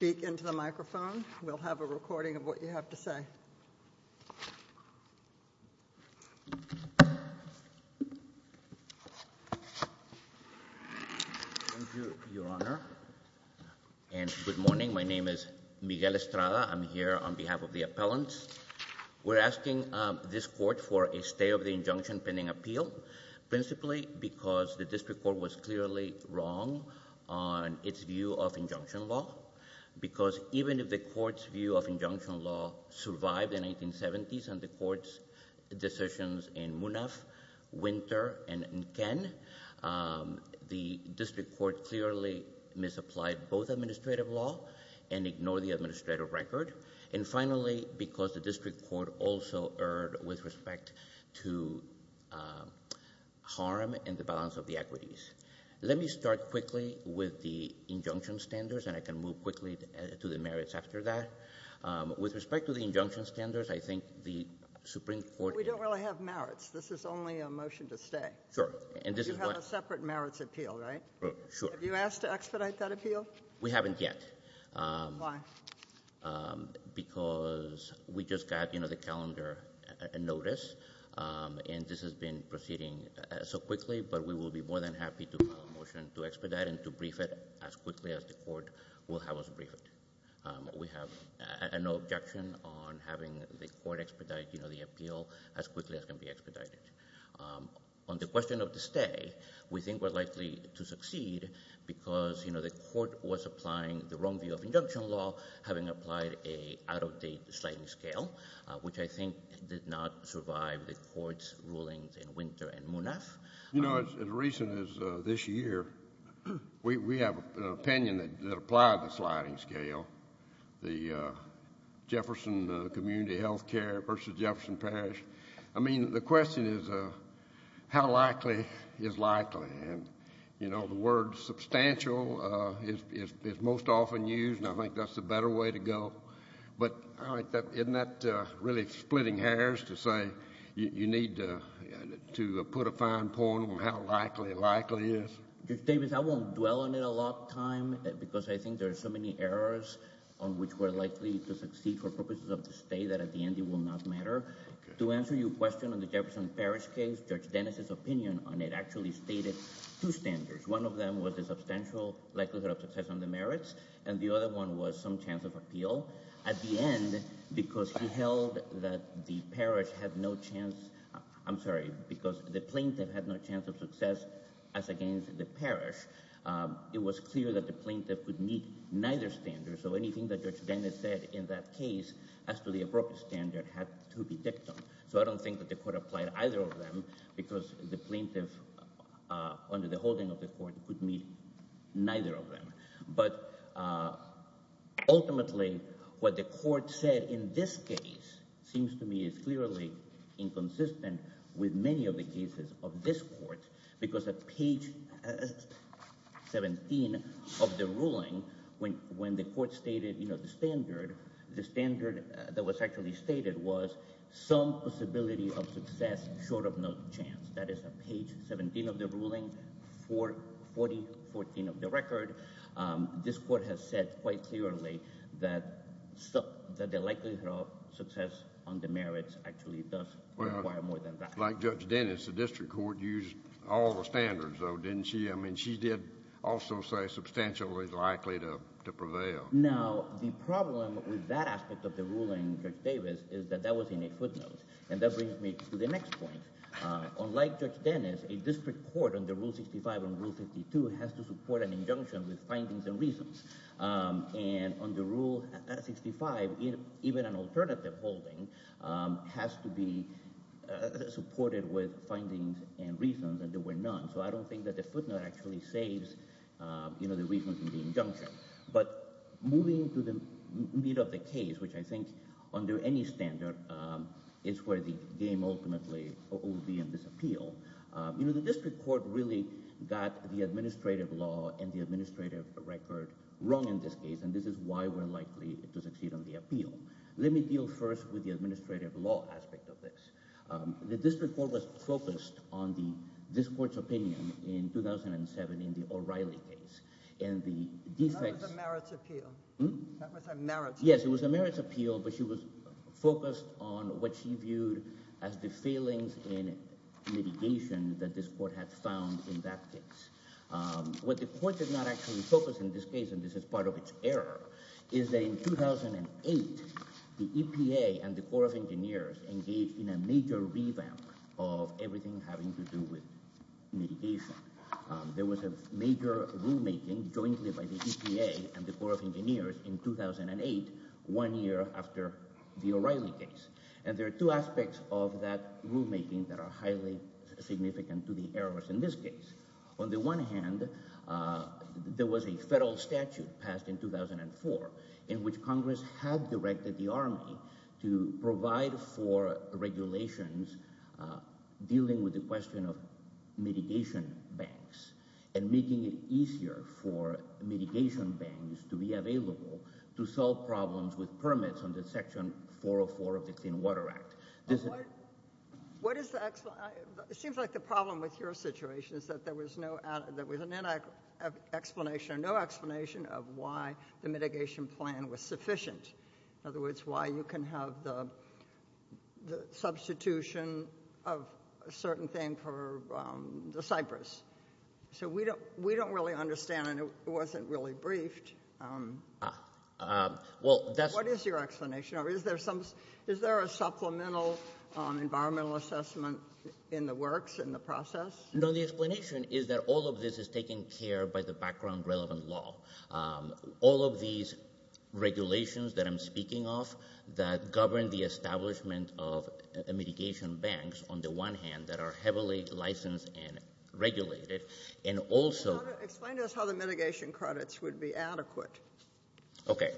Thank you, Your Honor. And good morning. My name is Miguel Estrada. I'm here on behalf of the appellants. We're asking this court for a stay of the injunction pending appeal, principally because the district court was clearly wrong on its view of injunction law. Because even if the court's view of injunction law survived the 1970s and the court's decisions in Munaf, Winter, and Ken, the district court clearly misapplied both administrative law and ignored the administrative record. And finally, because the district court also erred with respect to harm and the balance of the equities. Let me start quickly with the injunction standards, and I can move quickly to the merits after that. With respect to the injunction standards, I think the Supreme Court... We don't really have merits. This is only a motion to stay. Sure. And this is what... You have a separate merits appeal, right? Sure. Have you asked to expedite that appeal? We haven't yet. Why? Because we just got the calendar notice, and this has been proceeding so quickly, but we will be more than happy to have a motion to expedite and to brief it as quickly as the court will have us brief it. We have no objection on having the court expedite the appeal as quickly as can be expedited. On the question of the stay, we think likely to succeed because, you know, the court was applying the wrong view of induction law, having applied a out-of-date sliding scale, which I think did not survive the court's rulings in Winter and Munaf. You know, as recent as this year, we have an opinion that applied the sliding scale, the Jefferson Community Healthcare versus Jefferson Parish. I mean, the question is, how likely is likely? And, you know, the word substantial is most often used, and I think that's the better way to go. But isn't that really splitting hairs to say you need to put a fine point on how likely likely is? Judge Davis, I won't dwell on it a lot of time because I think there are so many errors on which we're likely to succeed for purposes of the stay that at the end it will not matter. To answer your question on the Jefferson Parish case, Judge Dennis' opinion on it actually stated two standards. One of them was a substantial likelihood of success on the merits, and the other one was some chance of appeal. At the end, because he held that the parish had no chance, I'm sorry, because the plaintiff had no chance of success as against the parish, it was clear that the plaintiff would meet neither standard. So anything that Judge Dennis said in that case as to the appropriate standard had to be dictum. So I don't think that the court applied either of them because the plaintiff, under the holding of the court, could meet neither of them. But ultimately, what the court said in this case seems to me is clearly inconsistent with many of the cases of this court, because at page 17 of the ruling, when the court stated, you know, the standard, the standard that was actually stated was some possibility of success short of no chance. That is at page 17 of the ruling, 4014 of the record, this court has said quite clearly that the likelihood of success on the merits actually does require more than that. Like Judge Dennis, the district court used all the standards, though, didn't she? I mean, she did also say substantially likely to prevail. Now, the problem with that aspect of the ruling, Judge Davis, is that that was in a footnote. And that brings me to the next point. Unlike Judge Dennis, a district court under Rule 65 and Rule 52 has to support an injunction with findings and reasons. And under Rule 65, even an alternative holding has to be supported with findings and so I don't think that the footnote actually saves, you know, the reasons in the injunction. But moving to the meat of the case, which I think under any standard is where the game ultimately will be in this appeal. You know, the district court really got the administrative law and the administrative record wrong in this case. And this is why we're likely to succeed on the appeal. Let me deal first with the administrative law aspect of this. The district court has focused on this court's opinion in 2007 in the O'Reilly case. And the defense... That was a merits appeal. Yes, it was a merits appeal, but she was focused on what she viewed as the failings in litigation that this court had found in that case. What the court did not actually focus in this case, and this is part of its error, is that in 2008, the EPA and the Corps of Engineers engaged in a major revamp of everything having to do with litigation. There was a major rulemaking jointly by the EPA and the Corps of Engineers in 2008, one year after the O'Reilly case. And there are two aspects of that rulemaking that are highly significant to the errors in this case. On the one hand, there was a federal statute passed in 2004 in which Congress had directed the Army to provide for regulations dealing with the question of mitigation banks and making it easier for mitigation banks to be available to solve problems with permits under Section 404 of the Clean Water Act. What is the – it seems like the problem with your situation is that there was no – there was an explanation or no explanation of why the mitigation plan was sufficient. In other words, why you can have the substitution of a certain thing for the Cypress. So we don't really understand, and it wasn't really briefed. What is your explanation? Or is there some – is there a supplemental environmental assessment in the works, in the process? No, the explanation is that all of this is taken care by the background relevant law. All of these regulations that I'm speaking of that govern the establishment of mitigation banks, on the one hand, that are heavily licensed and regulated, and also – Explain to us how the mitigation credits would be adequate. Okay.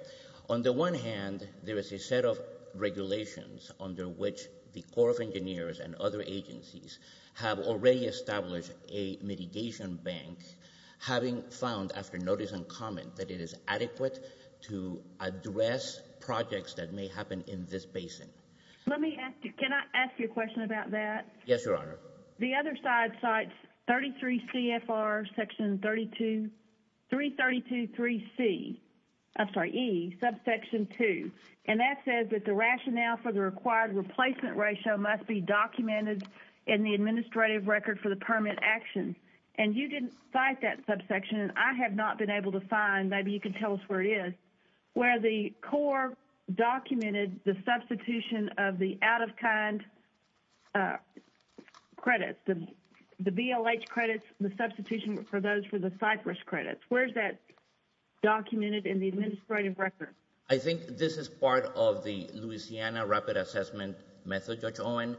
On the one hand, there is a set of regulations under which the Corps of Engineers and other adequate to address projects that may happen in this basin. Let me ask you – can I ask you a question about that? Yes, Your Honor. The other side cites 33 CFR Section 32 – 332-3C – I'm sorry, E, Subsection 2. And that says that the rationale for the required replacement ratio must be documented in the administrative record for the permit action. And you didn't cite that subsection, and I have not been able to find – maybe you can tell us where it is – where the Corps documented the substitution of the out-of-kind credits, the BLH credits, the substitution for those for the Cypress credits. Where is that documented in the administrative record? I think this is part of the Louisiana Rapid Assessment Method, Judge Owen,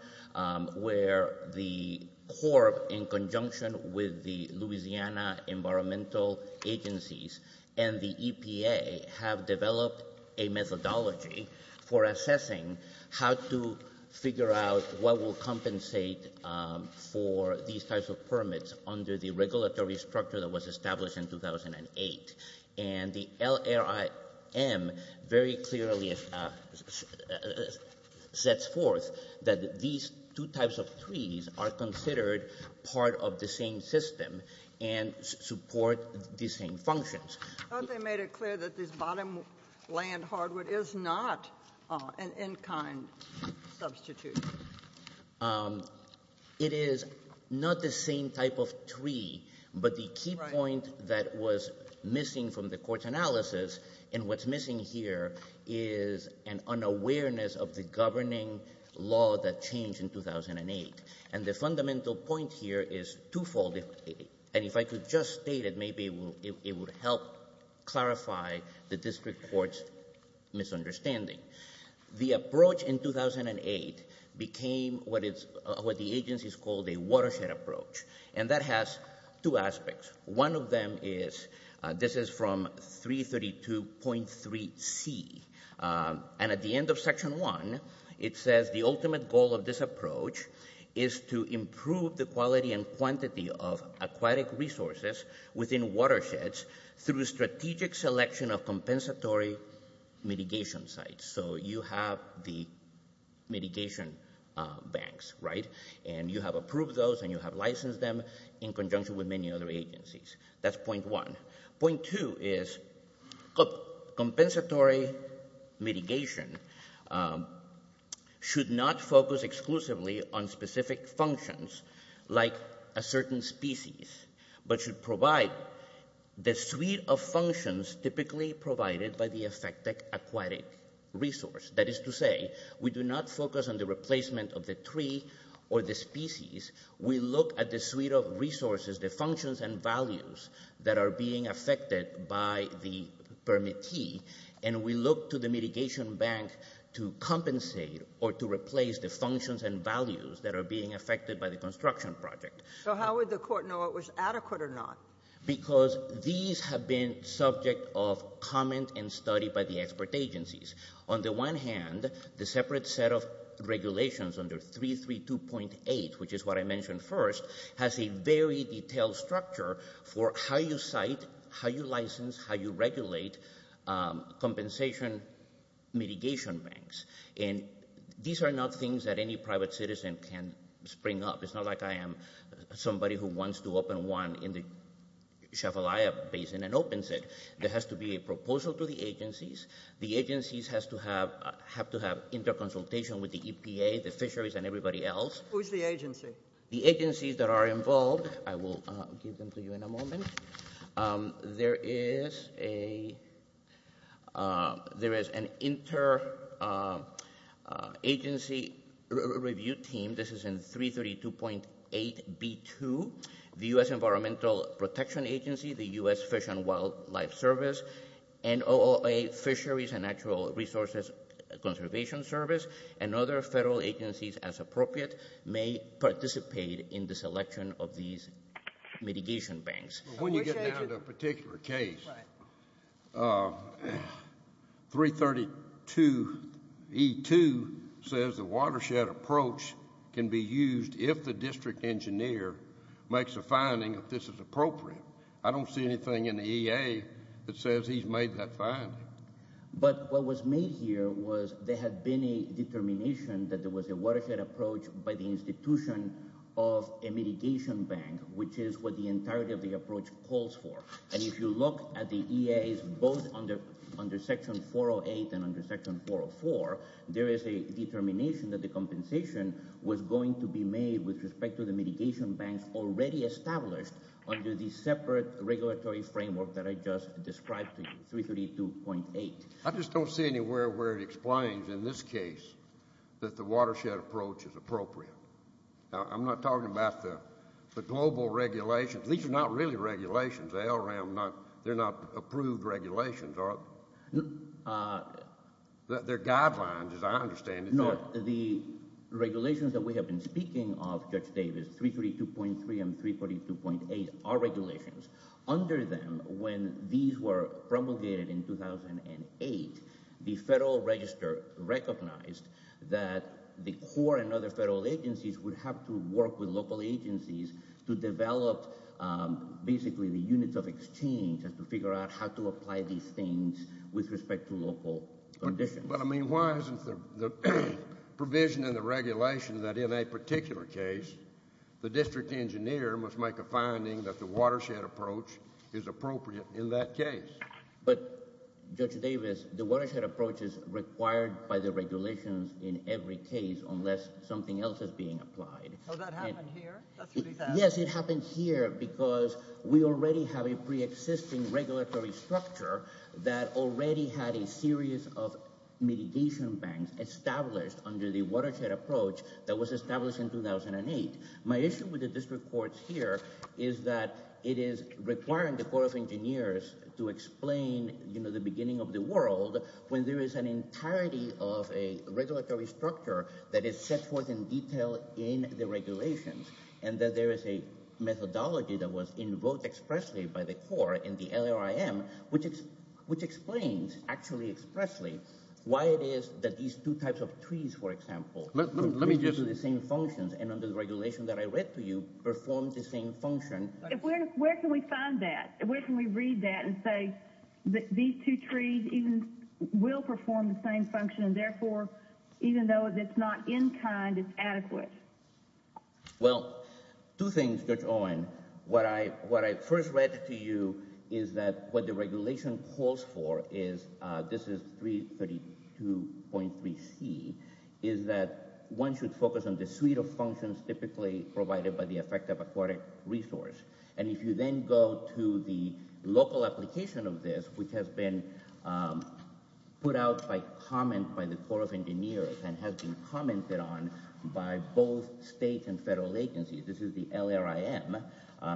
where the Louisiana Environmental Agencies and the EPA have developed a methodology for assessing how to figure out what will compensate for these types of permits under the regulatory structure that was established in 2008. And the LRIM very clearly sets forth that these two types of fees are considered part of the same system and support the same functions. Aren't they made it clear that this bottom land hardwood is not an in-kind substitute? It is not the same type of tree, but the key point that was missing from the Court's analysis, and what's missing here, is an unawareness of the governing law that changed in 2008. And the fundamental point here is twofold, and if I could just state it, maybe it would help clarify the District Court's misunderstanding. The approach in 2008 became what the agencies called a watershed approach, and that has two aspects. One of them is – this is from 332.3c – and at the end of Section 1, it says the ultimate goal of this approach is to improve the quality and quantity of aquatic resources within watersheds through strategic selection of compensatory mitigation sites. So you have the mitigation banks, right? And you have approved those and you have licensed them in conjunction with many other agencies. That's point one. Point two is compensatory mitigation should not focus exclusively on specific functions like a certain species, but should provide the suite of functions typically provided by the affected aquatic resource. That is to say, we do not focus on the replacement of the tree or the species. We look at the suite of resources, the functions and values that are being affected by the permittee, and we look to the mitigation bank to compensate or to replace the functions and values that are being affected by the construction project. So how would the court know it was adequate or not? Because these have been subject of comment and study by the expert agencies. On the one hand, the separate set of regulations under 332.8, which is what I mentioned first, has a very detailed structure for how you cite, how you license, how you regulate compensation mitigation banks. And these are not things that any private citizen can spring up. It's not like I am somebody who wants to open one in the Shavalaya basin and opens it. There has to be a proposal to the agencies. The agencies have to have inter-consultation with the EPA, the fisheries, and everybody else. Who's the agency? The agencies that are involved. I will give them to you in a moment. There is an inter-agency review team. This is in 332.8b2, the U.S. Environmental Protection Agency, the U.S. Fish and Wildlife Service, NOAA Fisheries and Natural Resources Conservation Service, and other federal agencies as appropriate may participate in the selection of these mitigation banks. When you get down to a particular case, 332.2b2 says the watershed approach can be used if the district engineer makes a finding that this is appropriate. I don't see anything in the EA that says he's made that finding. But what was made here was there had been a determination that there was a watershed approach by the institution of a mitigation bank, which is what the entirety of the approach calls for. And if you look at the EA, both under Section 408 and under Section 404, there is a determination that the compensation was going to be made with respect to the mitigation bank already established under the separate regulatory framework that I just described to you, 332.8. I just don't see anywhere where it explains, in this case, that the watershed approach is appropriate. I'm not talking about the global regulations. These are not really regulations. They're not approved regulations. They're guidelines, as I understand it. The regulations that we have been speaking of, Judge Davis, 332.3 and 342.8 are regulations. Under them, when these were promulgated in 2008, the Federal Register recognized that the court and other federal agencies would have to work with local agencies to develop basically the units of exchange and to figure out how to apply these things with respect to local conditions. Why isn't there provision in the regulation that, in a particular case, the district engineer must make a finding that the watershed approach is appropriate in that case? But, Judge Davis, the watershed approach is required by the regulations in every case unless something else is being applied. Well, that happened here. Yes, it happened here because we already have a pre-existing regulatory structure that already had a series of mitigation banks established under the watershed approach that was established in 2008. My issue with the district courts here is that it is requiring the Court of Engineers to explain the beginning of the world when there is an entirety of a regulatory structure that is set forth in detail in the regulations and that there is a methodology that was invoked expressly by the court in the LRIM, which explains actually expressly why it is that these two types of trees, for example, do the same functions and under the regulation that I read to you, perform the same function. Where can we find that? Where can we read that and say that these two trees will perform the same function and therefore, even though it's not in kind, it's adequate? Well, two things, Judge Owen. What I first read to you is that what the regulation calls for is, this is 332.3c, is that one should focus on the suite of functions typically provided by the effective aquatic resource. And if you then go to the local application of this, which has been put out by comment by the Court of Engineers and has been commented on by both state and federal agencies, this is the LRIM,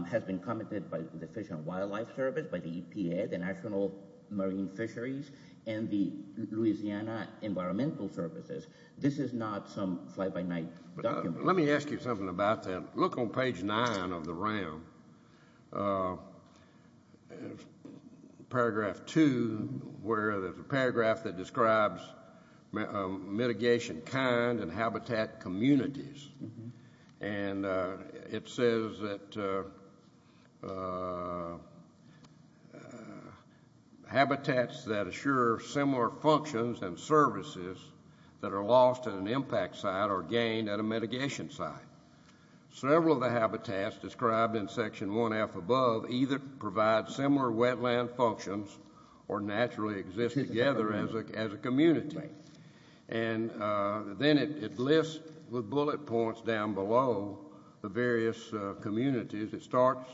has been commented by the Fish and Wildlife Service, by the EPA, the National Marine Fisheries, and the Louisiana Environmental Services. This is not some fly-by-night document. Let me ask you something about that. Look on page 9 of the RAM, paragraph 2, where there's a paragraph that describes mitigation kind and habitat communities. And it says that habitats that assure similar functions and services that are lost in an impact site are gained at a mitigation site. Several of the habitats described in section 1F above either provide similar wetland functions or naturally exist together as a community. And then it lists with bullet points down below the various communities. It starts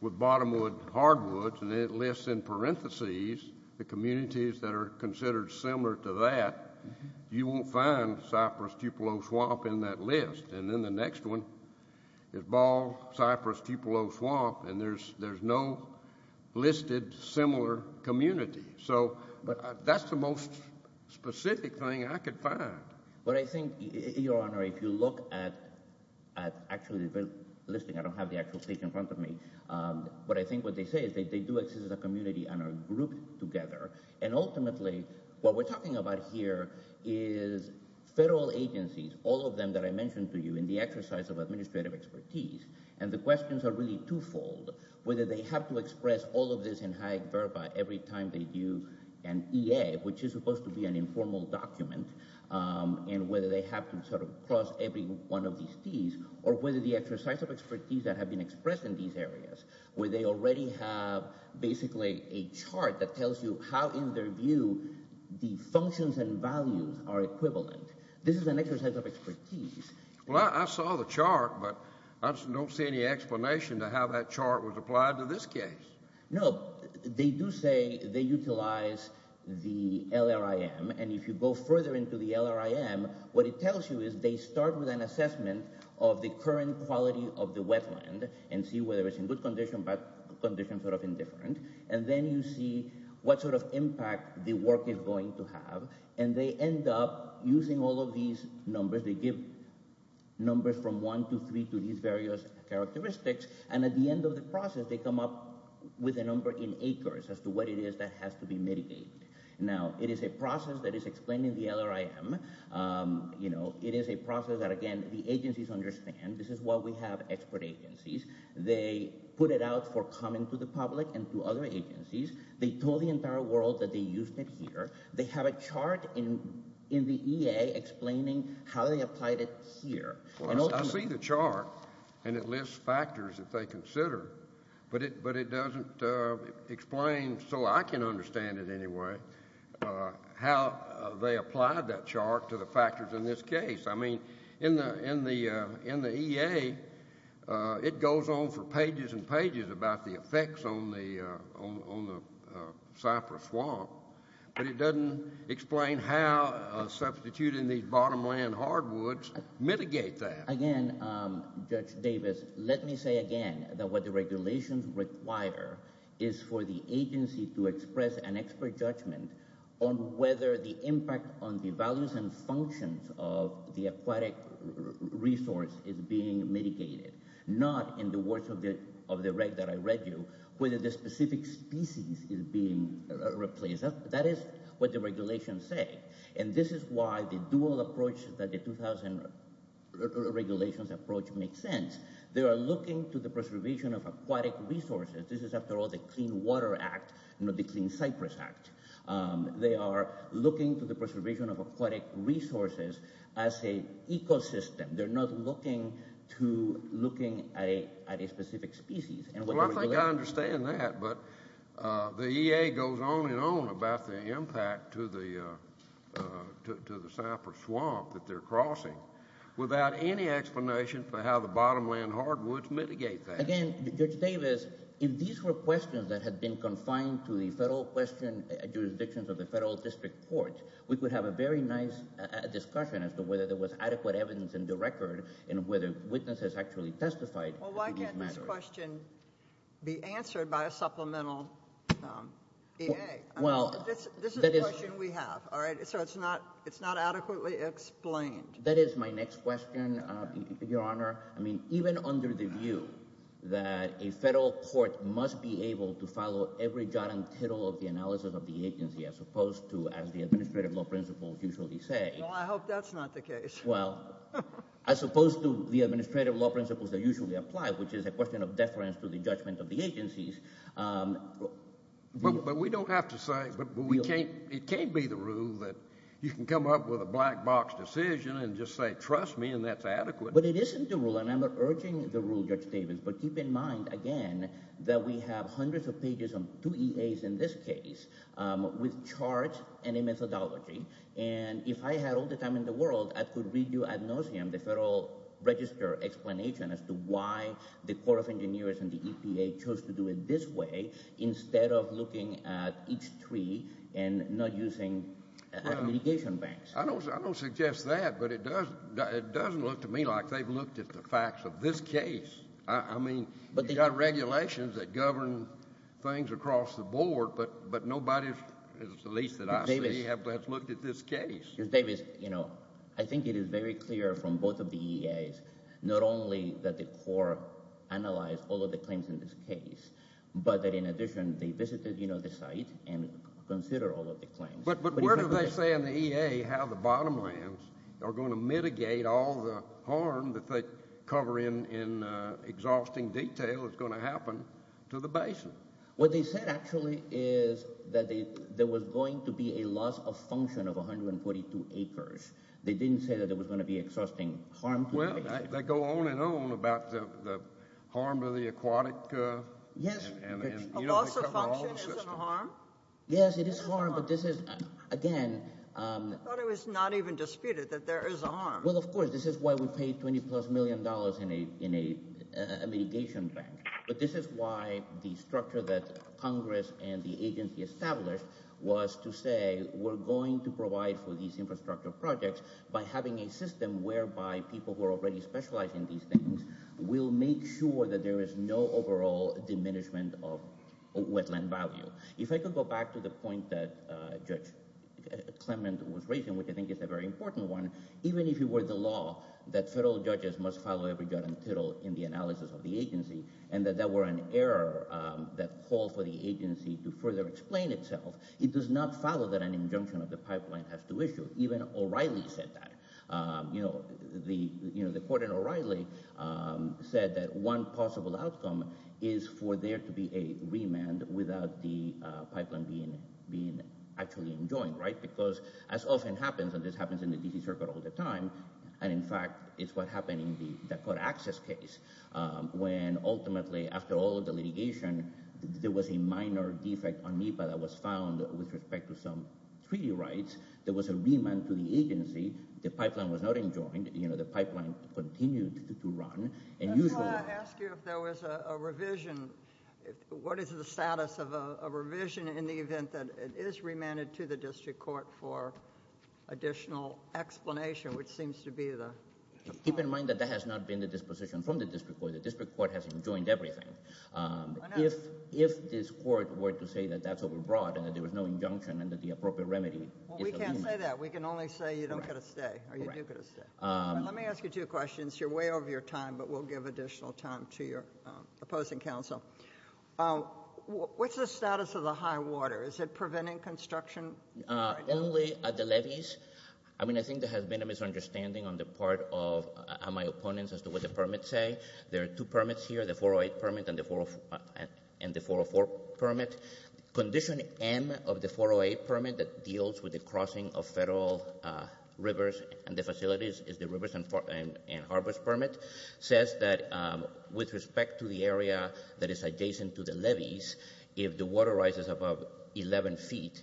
with bottomwood, hardwoods, and then it lists in parentheses the communities that are considered similar to that. You won't find cypress, cupola, swamp in that list. And then the next one is ball, cypress, cupola, swamp, and there's no listed similar community. So that's the most specific thing I could find. But I think, Your Honor, if you look at actually the listing, I don't have the actual page in front of me, but I think what they say is that they do exist as a community and are grouped together. And ultimately, what we're talking about here is federal agencies, all of them that I mentioned to you in the exercise of administrative expertise. And the questions are really twofold, whether they have to express all of this in high verba every time they do an EA, which is supposed to be an informal document, and whether they have to sort of cross every one of these fees, or whether the exercise of expertise that have been expressed in these areas, where they already have basically a chart that tells you how, in their view, the functions and values are equivalent. This is an exercise of expertise. Well, I saw the chart, but I don't see any explanation to how that chart was applied to this case. No, they do say they utilize the LRIM. And if you go further into the LRIM, what it tells you is they start with an assessment of the current quality of the wetland and see whether it's in good condition, bad condition, sort of indifferent. And then you see what sort of impact the work is going to have. And they end up using all of these numbers. They give numbers from one to three to these various characteristics. And at the end of the process, they come up with a number in acres as to what it is that has to be mitigated. Now, it is a process that is explained in the LRIM. It is a process that, again, the agencies understand. This is why we have expert agencies. They put it out for comment to the public and to other agencies. They told the entire world that they used it here. They had a chart in the EA explaining how they applied it here. I see the chart, and it lists factors that they consider. But it doesn't explain, so I can understand it anyway, how they applied that chart to the factors in this case. I mean, in the EA, it goes on for pages and pages about the effects on the cypress swamp. But it doesn't explain how substituting these bottomland hardwoods mitigate that. Again, Judge Davis, let me say again that what the regulations require is for the agency to express an expert judgment on whether the impact on the values and functions of the aquatic resource is being mitigated. Not in the words of the reg that I read you, whether the specific species is being replaced. That is what the regulations say, and this is why the dual approach that the 2000 regulations approach makes sense. They are looking to the preservation of aquatic resources. This is, after all, the Clean Water Act, not the Clean Cypress Act. They are looking to the preservation of aquatic resources as an ecosystem. They're not looking at a specific species. Well, I understand that, but the EA goes on and on about the impact to the cypress swamp that they're crossing without any explanation for how the bottomland hardwoods mitigate that. Again, Judge Davis, if these were questions that had been confined to the federal jurisdiction of the federal district courts, we could have a very nice discussion as to whether there is a record and whether witnesses actually testified. Well, why can't this question be answered by a supplemental EA? This is a question we have, all right? So it's not adequately explained. That is my next question, Your Honor. I mean, even under the view that a federal court must be able to follow every dot and tittle of the analysis of the agency as opposed to, as the administrative law principles usually say. Well, I hope that's not the case. Well, as opposed to the administrative law principles that usually apply, which is a question of deference to the judgment of the agencies. But we don't have to say, but it can't be the rule that you can come up with a black box decision and just say, trust me, and that's adequate. But it isn't the rule, and I'm not urging the rule, Judge Davis. But keep in mind, again, that we have hundreds of pages of two EAs in this case with charts and a methodology. And if I had all the time in the world, I could read you ad nauseam the Federal Register explanation as to why the Court of Engineers and the EPA chose to do it this way instead of looking at each tree and not using mitigation banks. I don't suggest that, but it does look to me like they've looked at the facts of this case. I mean, you've got regulations that govern things across the board, but nobody is the one that's looked at this case. Judge Davis, you know, I think it is very clear from both of the EAs, not only that the court analyzed all of the claims in this case, but that in addition, the businesses decide and consider all of the claims. But where do they say in the EA how the bottom lines are going to mitigate all the harm that they cover in exhausting detail is going to happen to the basin? What they said actually is that there was going to be a loss of function of 142 acres. They didn't say that there was going to be exhausting harm. Well, they go on and on about the harm to the aquatic... Yes. Yes, it is harm, but this is, again... I thought it was not even disputed that there is a harm. Well, of course, this is why we paid $20 million plus in a mitigation bank. But this is why the structure that Congress and the agency established was to say, we're going to provide for these infrastructure projects by having a system whereby people who are already specialized in these things will make sure that there is no overall diminishment of wetland value. If I could go back to the point that Judge Clement was raising, which I think is a very important one, even if you were the law, that federal judges must follow every judgment in the analysis of the agency, and that there were an error that called for the agency to further explain itself, it does not follow that an injunction of the pipeline has to issue. Even O'Reilly said that. The court in O'Reilly said that one possible outcome is for there to be a remand without the pipeline being actually enjoined, right? Because as often happens, and this happens in the D.C. case, when ultimately, after all the litigation, there was a minor defect on NEPA that was found with respect to some treaty rights. There was a remand to the agency. The pipeline was not enjoined. The pipeline continued to run. And usually... I want to ask you if there was a revision. What is the status of a revision in the event that it is remanded to the district court for additional explanation, which seems to be the... Keep in mind that that has not been the disposition from the district court. The district court has enjoined everything. If this court were to say that that's overbroad, and that there was no injunction, and that the appropriate remedy... Well, we can't say that. We can only say you don't get a stay, or you do get a stay. Let me ask you two questions. You're way over your time, but we'll give additional time to your opposing counsel. What's the status of the high water? Is it preventing construction? Only at the levees. I think there has been a misunderstanding on the part of my opponents as to what the permits say. There are two permits here, the 408 permit and the 404 permit. Condition N of the 408 permit that deals with the crossing of federal rivers and the facilities is the rivers and harvest permit. Says that with respect to the area that is adjacent to the levees, if the water rises above 11 feet,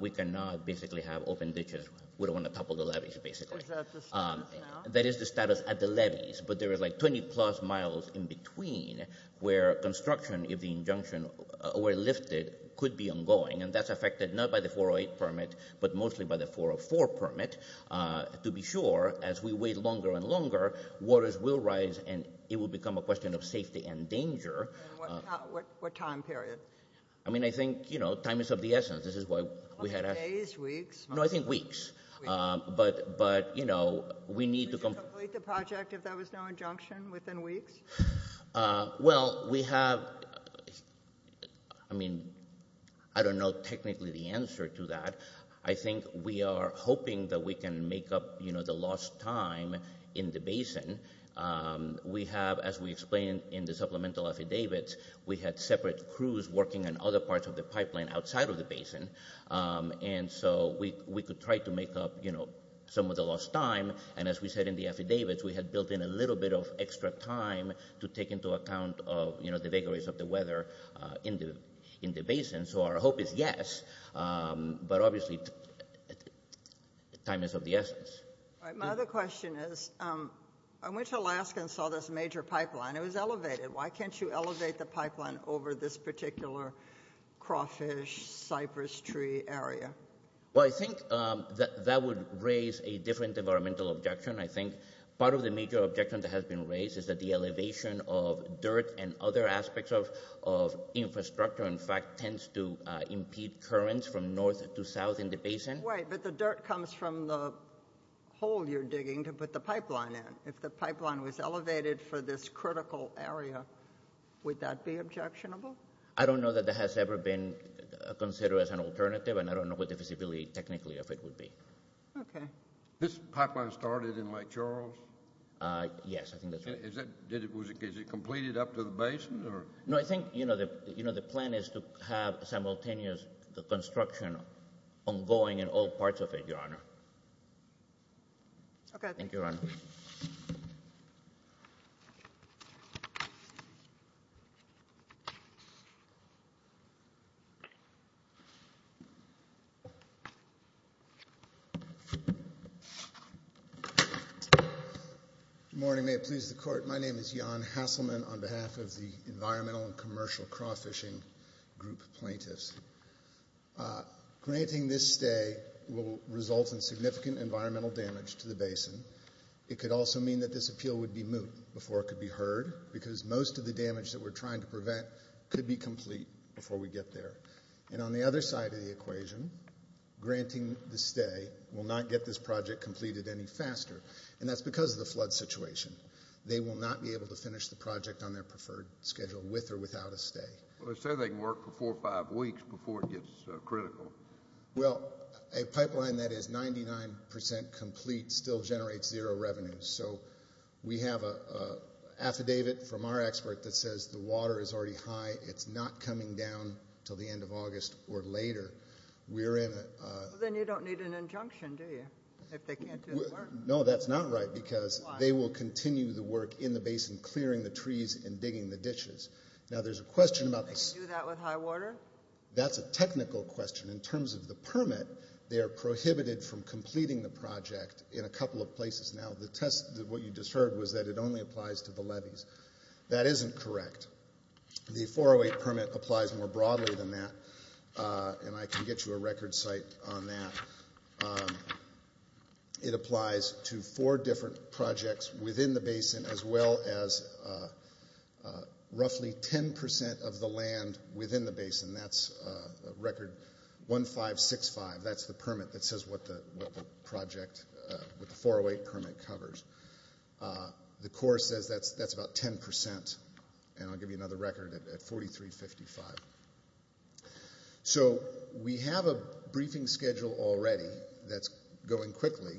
we cannot basically have open ditches. We don't want to topple the levees, basically. Is that the status now? That is the status at the levees, but there are like 20 plus miles in between where construction, if the injunction were lifted, could be ongoing. And that's affected not by the 408 permit, but mostly by the 404 permit. To be sure, as we wait longer and longer, waters will rise, and it will become a question of safety and danger. What time period? I mean, I think, you know, time is of the essence. This is what we had... Days? Weeks? No, I think weeks. But, you know, we need to... Complete the project if there was no injunction within weeks? Well, we have, I mean, I don't know technically the answer to that. I think we are hoping that we can make up, you know, the lost time in the basin. We have, as we explained in the supplemental affidavits, we had separate crews working in other parts of the pipeline outside of the basin. And so we could try to make up, you know, some of the lost time. And as we said in the affidavits, we had built in a little bit of extra time to take into account of, you know, the vagaries of the weather in the basin. So our hope is yes, but obviously, time is of the essence. My other question is, I went to Alaska and saw this major pipeline. It was elevated. Why can't you elevate the pipeline over this particular cross-fish, cypress tree area? Well, I think that would raise a different environmental objection. I think part of the major objection that has been raised is that the elevation of dirt and other aspects of infrastructure, in fact, tends to impede currents from north to south in the basin. Right, but the dirt comes from the hole you're digging to put the pipeline in. If the pipeline was elevated for this critical area, would that be objectionable? I don't know that that has ever been considered as an alternative, and I don't know what the feasibility technically of it would be. Okay. This pipeline started in Lake Charles? Yes, I think that's right. Is it completed up to the basin, or? No, I think the plan is to have simultaneous construction ongoing in all parts of it, Your Honor. Thank you, Your Honor. Good morning. May it please the Court. My name is Jan Hasselman on behalf of the Environmental and Commercial Cross-Fishing Group plaintiffs. Granting this stay will result in significant environmental damage to the basin. It could also mean that this appeal would be moved before it could be heard, because most of the damage that we're trying to prevent could be complete before we get there. And on the other side of the equation, granting the stay will not get this project completed any faster, and that's because of the flood situation. They will not be able to finish the project on their preferred schedule with or without a stay. Well, they said they can work for four or five weeks before it gets critical. Well, a pipeline that is 99 percent complete still generates zero revenue. So we have an affidavit from our expert that says the water is already high. It's not coming down until the end of August or later. We're in a... Then you don't need an injunction, do you, if they can't do the work? No, that's not right, because they will continue the work in the basin, clearing the trees and digging the dishes. Now, there's a question about this. Do you do that with high water? That's a technical question. In terms of the permit, they are prohibited from completing the project in a couple of places now. The test, what you just heard, was that it only applies to the leadens. That isn't correct. The 408 permit applies more broadly than that, and I can get you a record site on that. It applies to four different projects within the basin as well as roughly 10 percent of the land within the basin. That's a record 1565. That's the permit that says what the project, the 408 permit covers. The core says that's about 10 percent, and I'll give you another record at 4355. So, we have a briefing schedule already that's going quickly.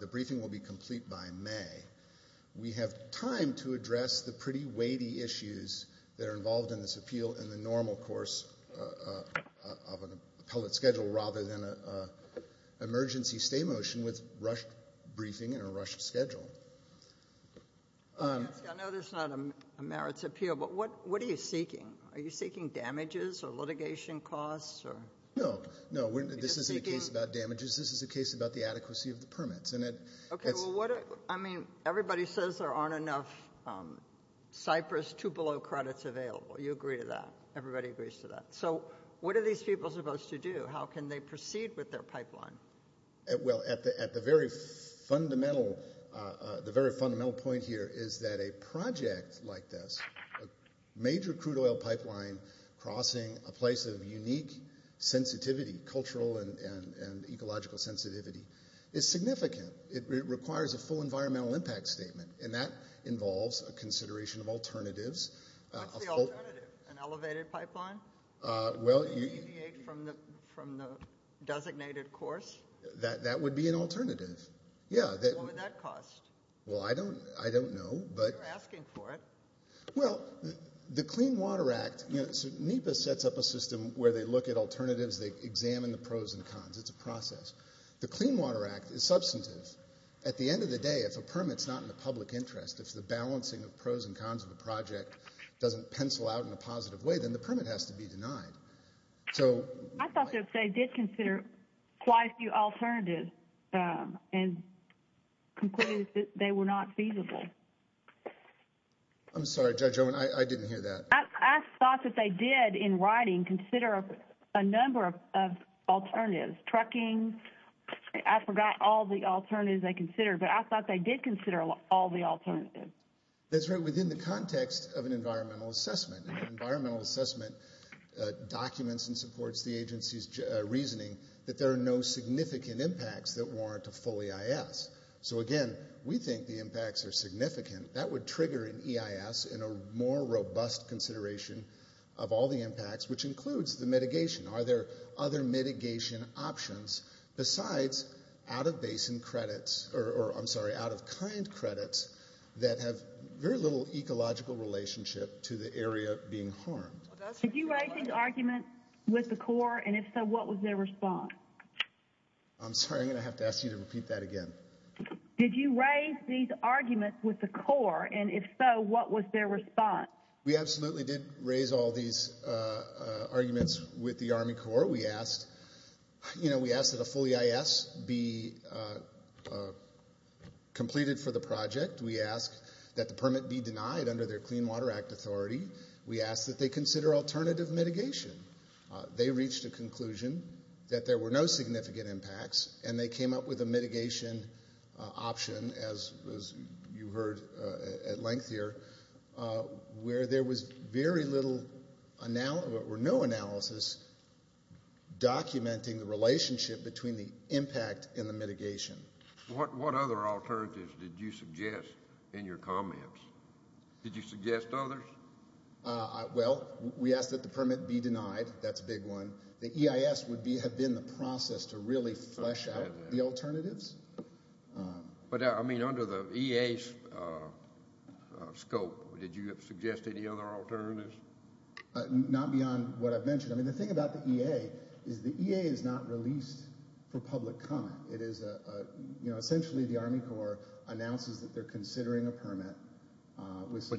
The briefing will be complete by May. We have time to address the pretty weighty issues that are involved in this appeal in the normal course of an appellate schedule rather than an emergency stay motion with rushed briefing and a rushed schedule. I know there's not a merits appeal, but what are you seeking? Are you seeking damages or litigation costs? No, no, this is a case about damages. This is a case about the adequacy of the permits. I mean, everybody says there aren't enough cypress to below credits available. You agree to that. Everybody agrees to that. So, what are these people supposed to do? How can they proceed with their pipeline? Well, at the very fundamental point here is that a project like this, a major crude oil pipeline crossing a place of unique sensitivity, cultural and ecological sensitivity, is significant. It requires a full environmental impact statement, and that involves a consideration of alternatives. What's the alternative? An elevated pipeline? Well, you… From the designated course? That would be an alternative, yeah. What would that cost? Well, I don't know, but… You're asking for it. Well, the Clean Water Act… You know, NEPA sets up a system where they look at alternatives. They examine the pros and cons. It's a process. The Clean Water Act is substantive. At the end of the day, if a permit's not in the public interest, if the balancing of pros and cons of the project doesn't pencil out in a positive way, then the permit has to be denied. So… I thought they did consider quite a few alternatives and concluded that they were not feasible. I'm sorry, Judge Owen. I didn't hear that. I thought that they did, in writing, consider a number of alternatives. Trucking… I forgot all the alternatives they considered, but I thought they did consider all the alternatives. That's right. Within the context of an environmental assessment, an environmental assessment documents and supports the agency's reasoning that there are no significant impacts that warrant a full EIS. So, again, we think the impacts are significant. That would trigger an EIS and a more robust consideration of all the impacts, which includes the mitigation. Are there other mitigation options besides out-of-basin credits – or, I'm sorry, out-of-kind credits that have very little ecological relationship to the area being harmed? Did you write these arguments with the Corps? And if so, what was their response? I'm sorry, I'm going to have to ask you to repeat that again. Did you raise these arguments with the Corps? And if so, what was their response? We absolutely did raise all these arguments with the Army Corps. We asked that a full EIS be completed for the project. We asked that the permit be denied under their Clean Water Act authority. We asked that they consider alternative mitigation. They reached a conclusion that there were no significant impacts, and they came up with a mitigation option, as you heard at length here, where there was very little – or no analysis documenting the relationship between the impact and the mitigation. What other alternatives did you suggest in your comments? Did you suggest others? Well, we asked that the permit be denied. That's a big one. The EIS would be – have been the process to really flesh out the alternatives. But I mean, under the EA's scope, did you suggest any other alternatives? Not beyond what I've mentioned. I mean, the thing about the EA is the EA is not released for public comment. It is a – essentially, the Army Corps announces that they're considering a permit.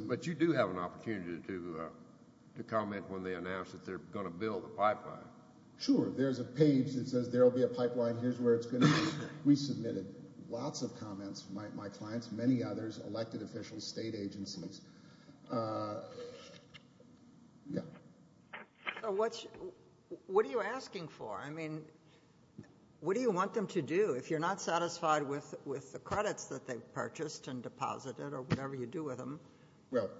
But you do have an opportunity to comment when they announce that they're going to build a pipeline. Sure. There's a page that says there will be a pipeline. Here's where it's going to be resubmitted. Lots of comments. My clients, many others, elected officials, state agencies. Yeah. What are you asking for? I mean, what do you want them to do? If you're not satisfied with the credits that they've purchased and deposited or whatever you do with them,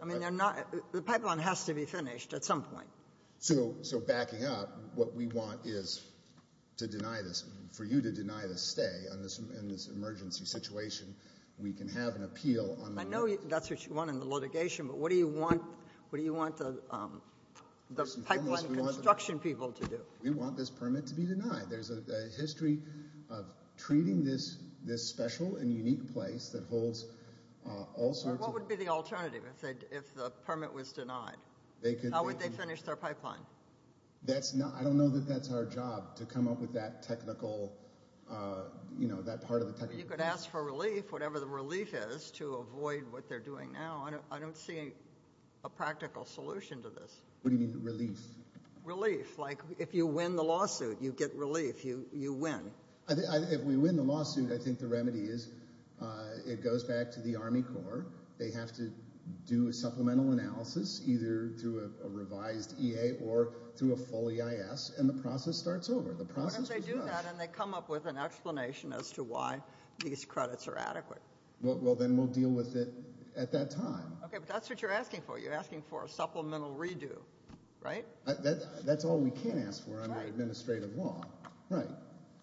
I mean, they're not – the pipeline has to be finished at some point. So backing up, what we want is to deny this – for you to deny the stay in this emergency situation, we can have an appeal on the – I know that's what you want in the litigation, but what do you want the pipeline construction We want this permit to be denied. There's a history of treating this special and unique place that holds all sorts of – What would be the alternative if the permit was denied? How would they finish their pipeline? I don't know that that's our job, to come up with that technical – that part of the technical – You could ask for relief, whatever the relief is, to avoid what they're doing now. I don't see a practical solution to this. What do you mean, relief? Relief. If you win the lawsuit, you get relief. You win. If we win the lawsuit, I think the remedy is it goes back to the Army Corps. They have to do a supplemental analysis, either through a revised EA or through a full EIS, and the process starts over. The process is – And they do that and they come up with an explanation as to why these credits are adequate. Well, then we'll deal with it at that time. Okay, but that's what you're asking for. You're asking for a supplemental redo, right? That's all we can ask for under administrative law. Right.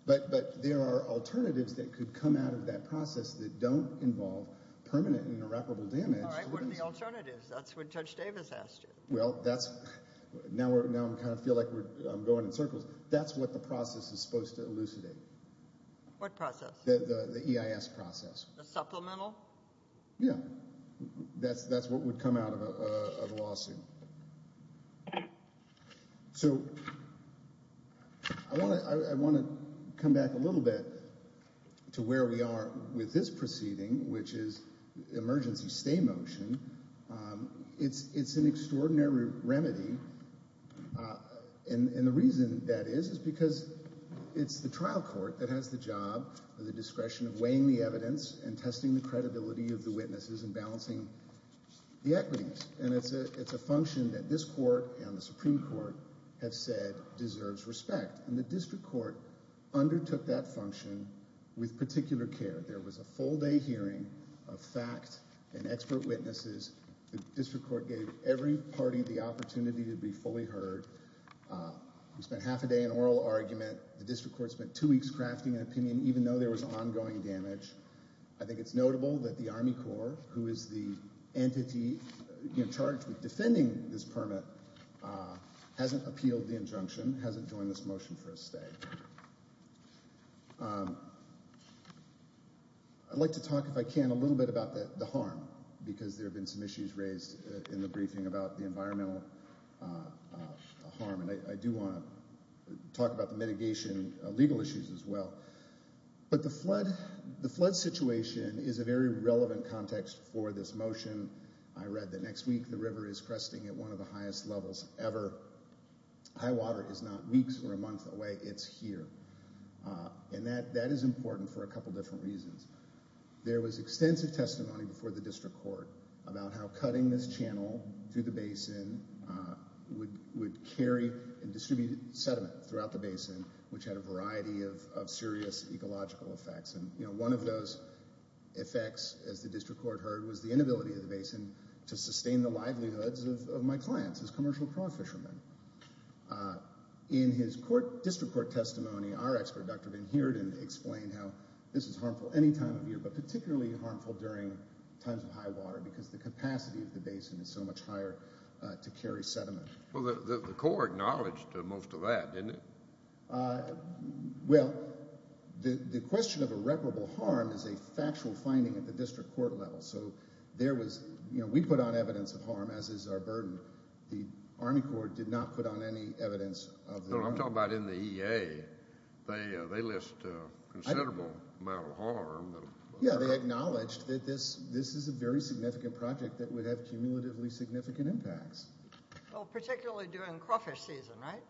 But there are alternatives that could come out of that process that don't involve permanent and irreparable damage. All right, what are the alternatives? That's what Judge Davis asked you. Well, that's – now I kind of feel like I'm going in circles. That's what the process is supposed to elucidate. What process? The supplemental? Yeah, that's what would come out of a lawsuit. So I want to come back a little bit to where we are with this proceeding, which is emergency stay motion. It's an extraordinary remedy, and the reason that is is because it's the trial court that has the job and the discretion of weighing the evidence and testing the credibility of the witnesses and balancing the equities. And it's a function that this court and the Supreme Court have said deserves respect, and the district court undertook that function with particular care. There was a full-day hearing of facts and expert witnesses. The district court gave every party the opportunity to be fully heard. We spent half a day in oral argument. The district court spent two weeks crafting an opinion, even though there was ongoing damage. I think it's notable that the Army Corps, who is the entity in charge of defending this permit, hasn't appealed the injunction, hasn't joined this motion for a stay. I'd like to talk, if I can, a little bit about the harm, because there have been some issues raised in the briefing about the environmental harm, and I do want to talk about the mitigation legal issues as well. But the flood situation is a very relevant context for this motion. I read that next week the river is cresting at one of the highest levels ever. High water is not weeks or a month away, it's here. And that is important for a couple different reasons. There was extensive testimony before the district court about how cutting this channel through the basin would carry and distribute sediment throughout the basin, which had a variety of serious ecological effects. And one of those effects, as the district court heard, was the inability of the basin to sustain the livelihoods of my clients as commercial crawfishermen. In his district court testimony, our expert, Dr. Van Heerden, explained how this is harmful any time of year, but particularly harmful during times of high water, because the capacity of the basin is so much higher to carry sediment. Well, the Corps acknowledged most of that, didn't it? Uh, well, the question of irreparable harm is a factual finding at the district court level. So there was, you know, we put out evidence of harm, as is our burden. The Army Corps did not put out any evidence of harm. I'm talking about in the EA. They list a considerable amount of harm. Yeah, they acknowledged that this is a very significant project that would have cumulatively significant impacts. Well, particularly during crawfish season, right?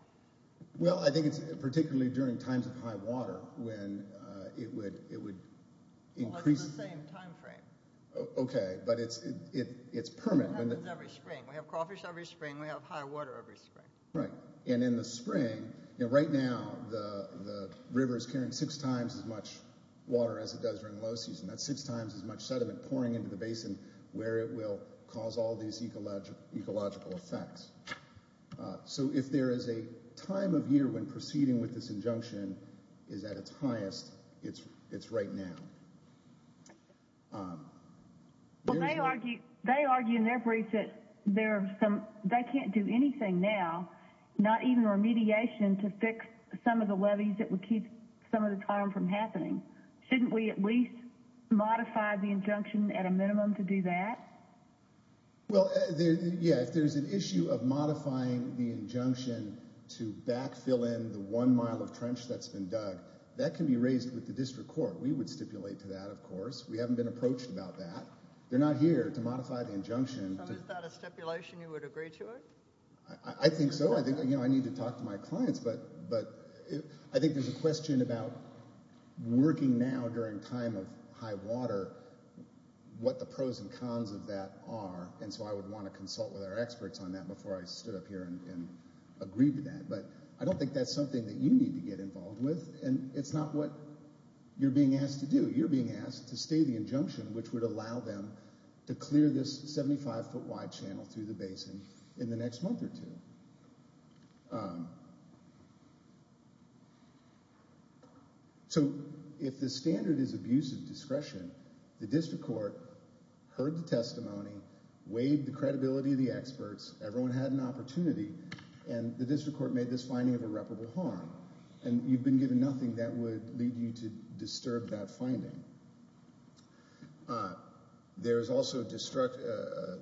Well, I think it's particularly during times of high water when it would increase... Well, that's the same time frame. Okay. But it's permanent. We have crawfish every spring. We have crawfish every spring. We have high water every spring. Right. And in the spring, right now, the river is carrying six times as much water as it does during low season. That's six times as much sediment pouring into the basin where it will cause all these ecological effects. So if there is a time of year when proceeding with this injunction is at its highest, it's right now. Well, they argue in their brief that they can't do anything now, not even remediation, to fix some of the levees that would keep some of this harm from happening. Shouldn't we at least modify the injunction at a minimum to do that? Well, yeah. If there's an issue of modifying the injunction to backfill in the one mile of trench that's been dug, that can be raised with the district court. We would stipulate to that, of course. We haven't been approached about that. They're not here to modify the injunction. Is that a stipulation you would agree to it? I think so. I think I need to talk to my clients, but I think there's a question about working now during a time of high water, what the pros and cons of that are. And so I would want to consult with our experts on that before I sit up here and agree to that. But I don't think that's something that you need to get involved with. And it's not what you're being asked to do. You're being asked to stay the injunction, which would allow them to clear this 75 foot wide channel to the basin in the next month or two. So, if the standard is abuse of discretion, the district court heard the testimony, weighed the credibility of the experts, everyone had an opportunity, and the district court made this finding of irreparable harm. And you've been given nothing that would lead you to disturb that finding. There is also a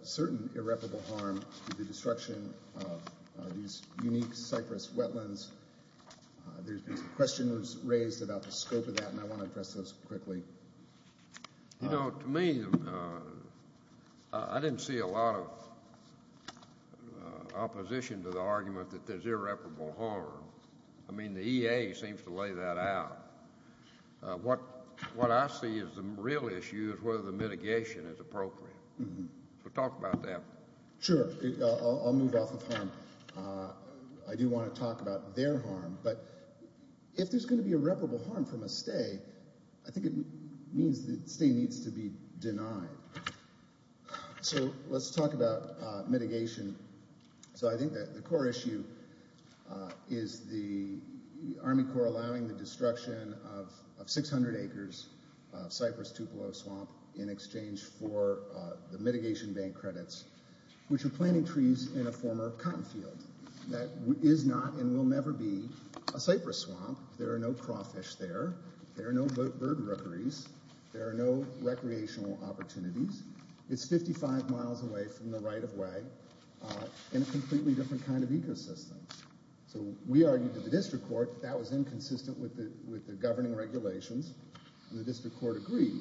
certain irreparable harm to the destruction of these unique cypress wetlands. There's a question that was raised about the scope of that, and I want to address this quickly. You know, to me, I didn't see a lot of opposition to the argument that there's irreparable harm. I mean, the EA seems to lay that out. But what I see is the real issue is whether the mitigation is appropriate. So, talk about that. Sure, I'll move off of harm. I do want to talk about their harm. But if there's going to be irreparable harm from a stay, I think it means the stay needs to be denied. So, let's talk about mitigation. So, I think the core issue is the Army Corps allowing the destruction of 600 acres of Cypress Tupelo Swamp in exchange for the mitigation bank credits, which are planting trees in a former cotton field. That is not and will never be a cypress swamp. There are no crawfish there. There are no bird mercuries. There are no recreational opportunities. It's 55 miles away from the right-of-way in a completely different kind of ecosystem. So, we argued to the district court that that was inconsistent with the governing regulations, and the district court agreed.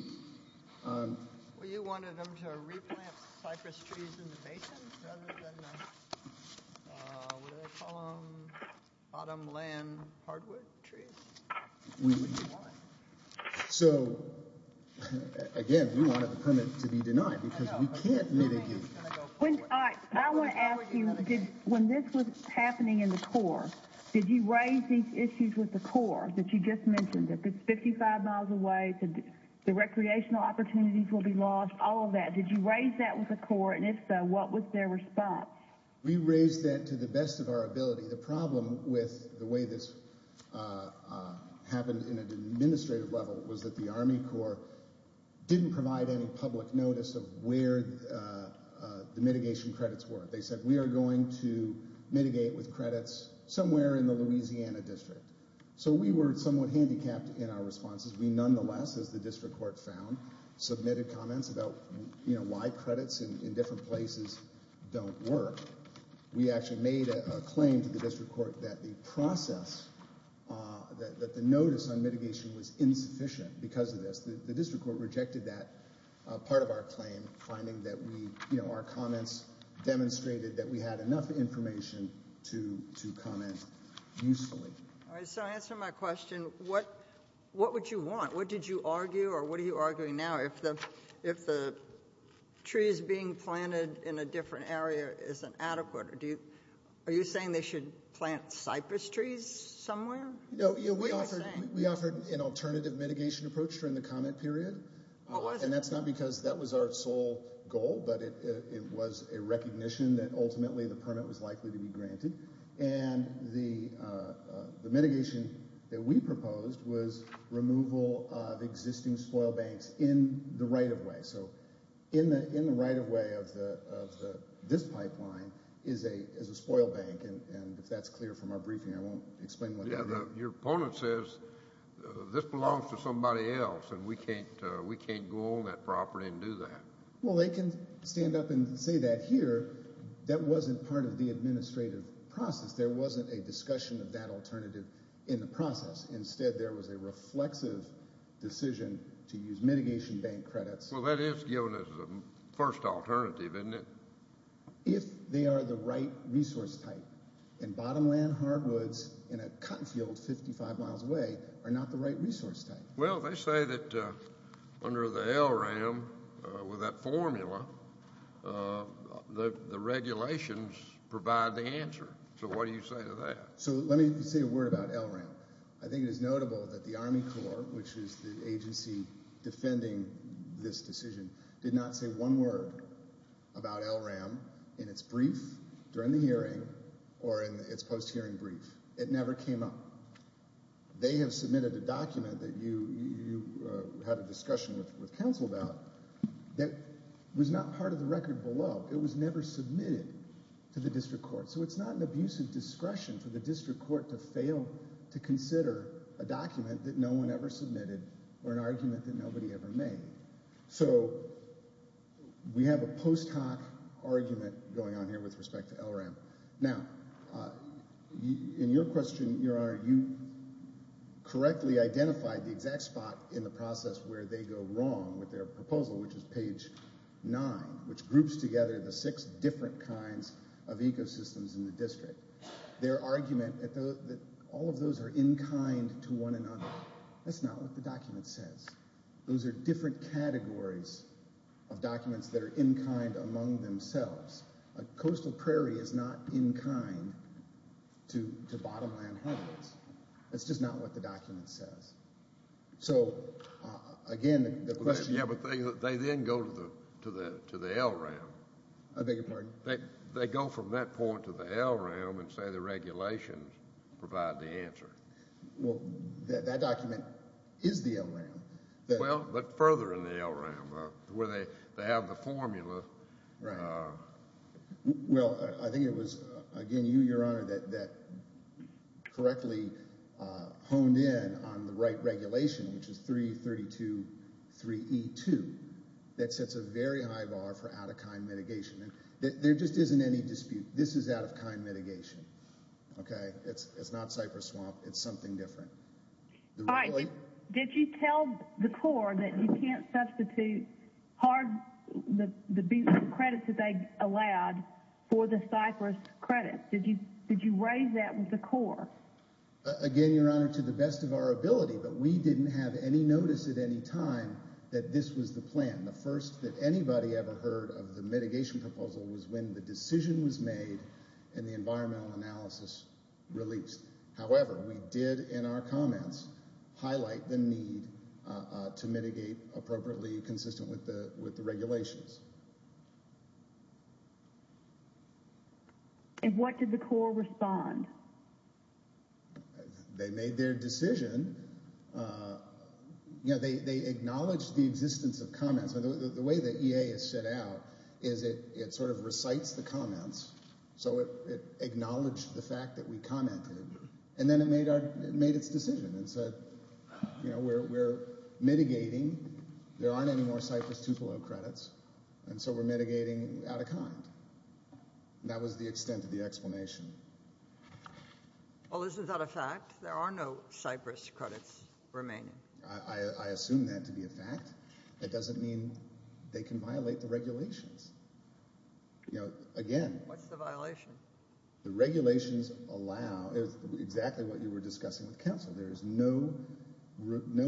Well, you wanted them to replant cypress trees in the basin rather than the bottom land hardwood trees? So, again, you don't have to come in to be denied, because we can't mitigate. All right, I want to ask you, when this was happening in the Corps, did you raise these issues with the Corps that you just mentioned? If it's 55 miles away, the recreational opportunities will be lost, all of that. Did you raise that with the Corps? And if so, what was their response? We raised that to the best of our ability. The problem with the way this happened in an administrative level was that the Army Corps didn't provide any public notice of where the mitigation credits were. They said, we are going to mitigate with credits somewhere in the Louisiana district. So, we were somewhat handicapped in our responses. We nonetheless, as the district court found, submitted comments about why credits in different places don't work. We actually made a claim to the district court that the process, that the notice on mitigation was insufficient because of this. The district court rejected that part of our claim, finding that we, you know, our comments demonstrated that we had enough information to comment usefully. All right, so to answer my question, what would you want? What did you argue, or what are you arguing now? If the trees being planted in a different area isn't adequate, are you saying they should plant cypress trees somewhere? No, we offered an alternative mitigation approach during the comment period. And that's not because that was our sole goal, but it was a recognition that ultimately the permit was likely to be granted. And the mitigation that we proposed was removal of existing spoil banks in the right-of-way. So, in the right-of-way of this pipeline is a spoil bank, and that's clear from our briefing. I won't explain what it is. Your opponent says, this belongs to somebody else, and we can't go on that property and do that. Well, they can stand up and say that here. That wasn't part of the administrative process. There wasn't a discussion of that alternative in the process. Instead, there was a reflective decision to use mitigation bank credits. Well, that is given as the first alternative, isn't it? If they are the right resource type, and bottomland hardwoods in a cotton field 55 miles away are not the right resource type. Well, they say that under the LRAM, with that formula, the regulations provide the answer. So, what do you say to that? So, let me say a word about LRAM. I think it's notable that the Army Corps, which is the agency defending this decision, did not say one word about LRAM in its brief during the hearing or in its post-hearing brief. It never came up. They have submitted a document that you had a discussion with the council about that was not part of the record below. It was never submitted to the district court. So, it's not an abuse of discretion for the district court to fail to consider a document that no one ever submitted or an argument that nobody ever made. So, we have a post hoc argument going on here with respect to LRAM. Now, in your question, Your Honor, you correctly identified me at that spot in the process where they go wrong with their proposal, which is page 9, which groups together the six different kinds of ecosystems in the district. Their argument is that all of those are in kind to one another. That's not what the document says. Those are different categories of documents that are in kind among themselves. Coastal prairie is not in kind to bottom land habitats. That's just not what the document says. So, again, the question… Yeah, but they then go to the LRAM. I beg your pardon? They go from that point to the LRAM and say the regulations provide the answer. Well, that document is the LRAM. Well, look further in the LRAM where they have the formula. Well, I think it was, again, you, Your Honor, that correctly honed in on the right regulation, which is 332.3e2, that sets a very high bar for out-of-kind mitigation. There just isn't any dispute. This is out-of-kind mitigation, okay? It's not cypress swamp. It's something different. All right. Did you tell the Corps that you can't substitute hard… the beaten credits that they allowed for the cypress credit? Did you raise that with the Corps? Again, Your Honor, to the best of our ability, but we didn't have any notice at any time that this was the plan. The first that anybody ever heard of the mitigation proposal was when the decision was made and the environmental analysis released. However, we did, in our comments, highlight the need to mitigate appropriately consistent with the regulations. And what did the Corps respond? They made their decision. You know, they acknowledged the existence of comments. And the way the EA has set out is it sort of recites the comments, so it acknowledged the fact that we commented, and then it made its decision. It said, you know, we're mitigating. There aren't any more cypress Tupelo credits, and so we're mitigating out-of-kind. That was the extent of the explanation. Well, this is out-of-fact. There are no cypress credits remaining. I assume that to be a fact. It doesn't mean they can violate the regulations. You know, again… What's the violation? The regulations allow exactly what you were discussing with counsel. There is no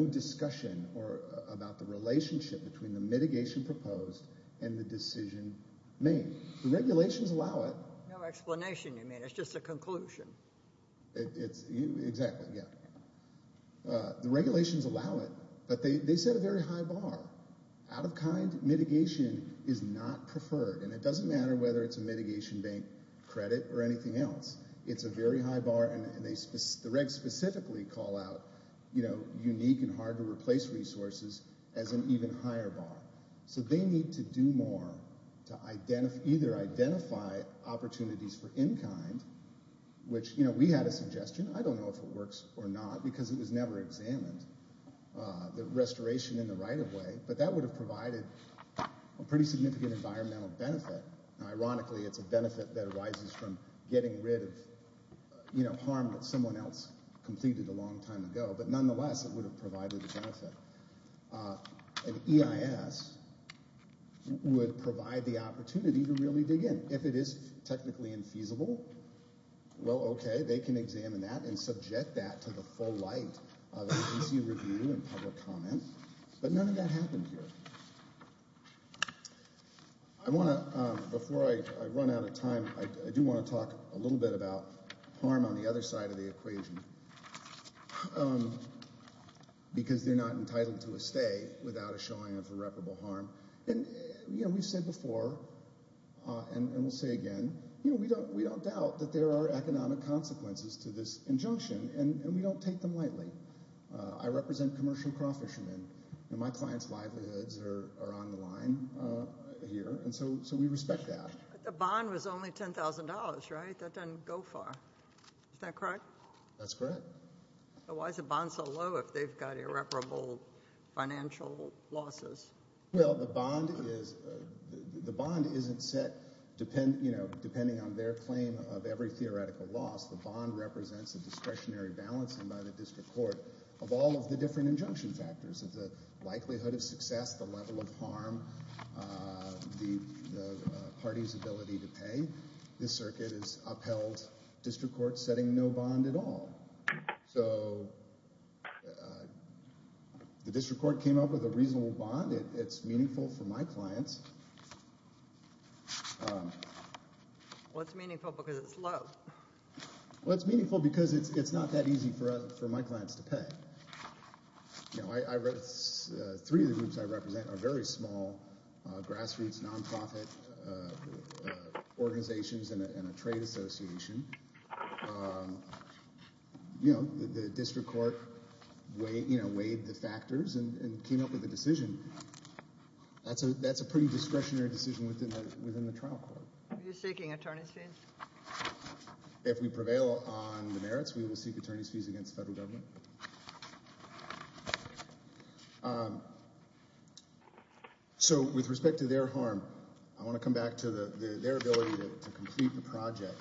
discussion about the relationship between the mitigation proposed and the decision made. The regulations allow it. No explanation, you mean. It's just a conclusion. Exactly, yeah. The regulations allow it, but they set a very high bar. Out-of-kind mitigation is not preferred, and it doesn't matter whether it's a mitigation bank credit or anything else. It's a very high bar, and the regs specifically call out, you know, unique and hard-to-replace resources as an even higher bar. So they need to do more to either identify opportunities for in-time, which, you know, we had a suggestion. I don't know if it works or not because it was never examined, the restoration in the right-of-way, but that would have provided a pretty significant environmental benefit. Ironically, it's a benefit that arises from getting rid of, you know, harm that someone else completed a long time ago, but nonetheless, it would have provided a benefit. An EIS would provide the opportunity to really dig in. If it is technically infeasible, well, okay, they can examine that and subject that to the full light of an easy review and several comments, but none of that happens here. I want to, before I run out of time, I do want to talk a little bit about harm on the other side of the equation because they're not entitled to a stay without a showing of irreparable harm. And, you know, we said before, and we'll say again, you know, we don't doubt that there are economic consequences to this injunction, and we don't take them lightly. I represent commercial crawfishing, and my client's livelihoods are on the line here, and so we respect that. The bond was only $10,000, right? That doesn't go far. Is that correct? That's correct. So why is the bond so low if they've got irreparable financial losses? Well, the bond isn't set, you know, depending on their claim of every theoretical loss. The bond represents a discretionary balance from either district court of all of the different injunction factors, the likelihood of success, the level of harm, the party's ability to pay. This circuit is upheld, district court setting no bond at all. So the district court came up with a reasonable bond. It's meaningful for my clients. What's meaningful because it's low? Well, it's meaningful because it's not that easy for my clients to pay. You know, three of the groups I represent are very small, grassroots, non-profit organizations and a trade association. You know, the district court weighed the factors and came up with a decision. That's a pretty discretionary decision within the trial court. Are you seeking attorney's fees? If we prevail on the merits, we will seek attorney's fees against federal government. So with respect to their harm, I want to come back to their ability to complete the project.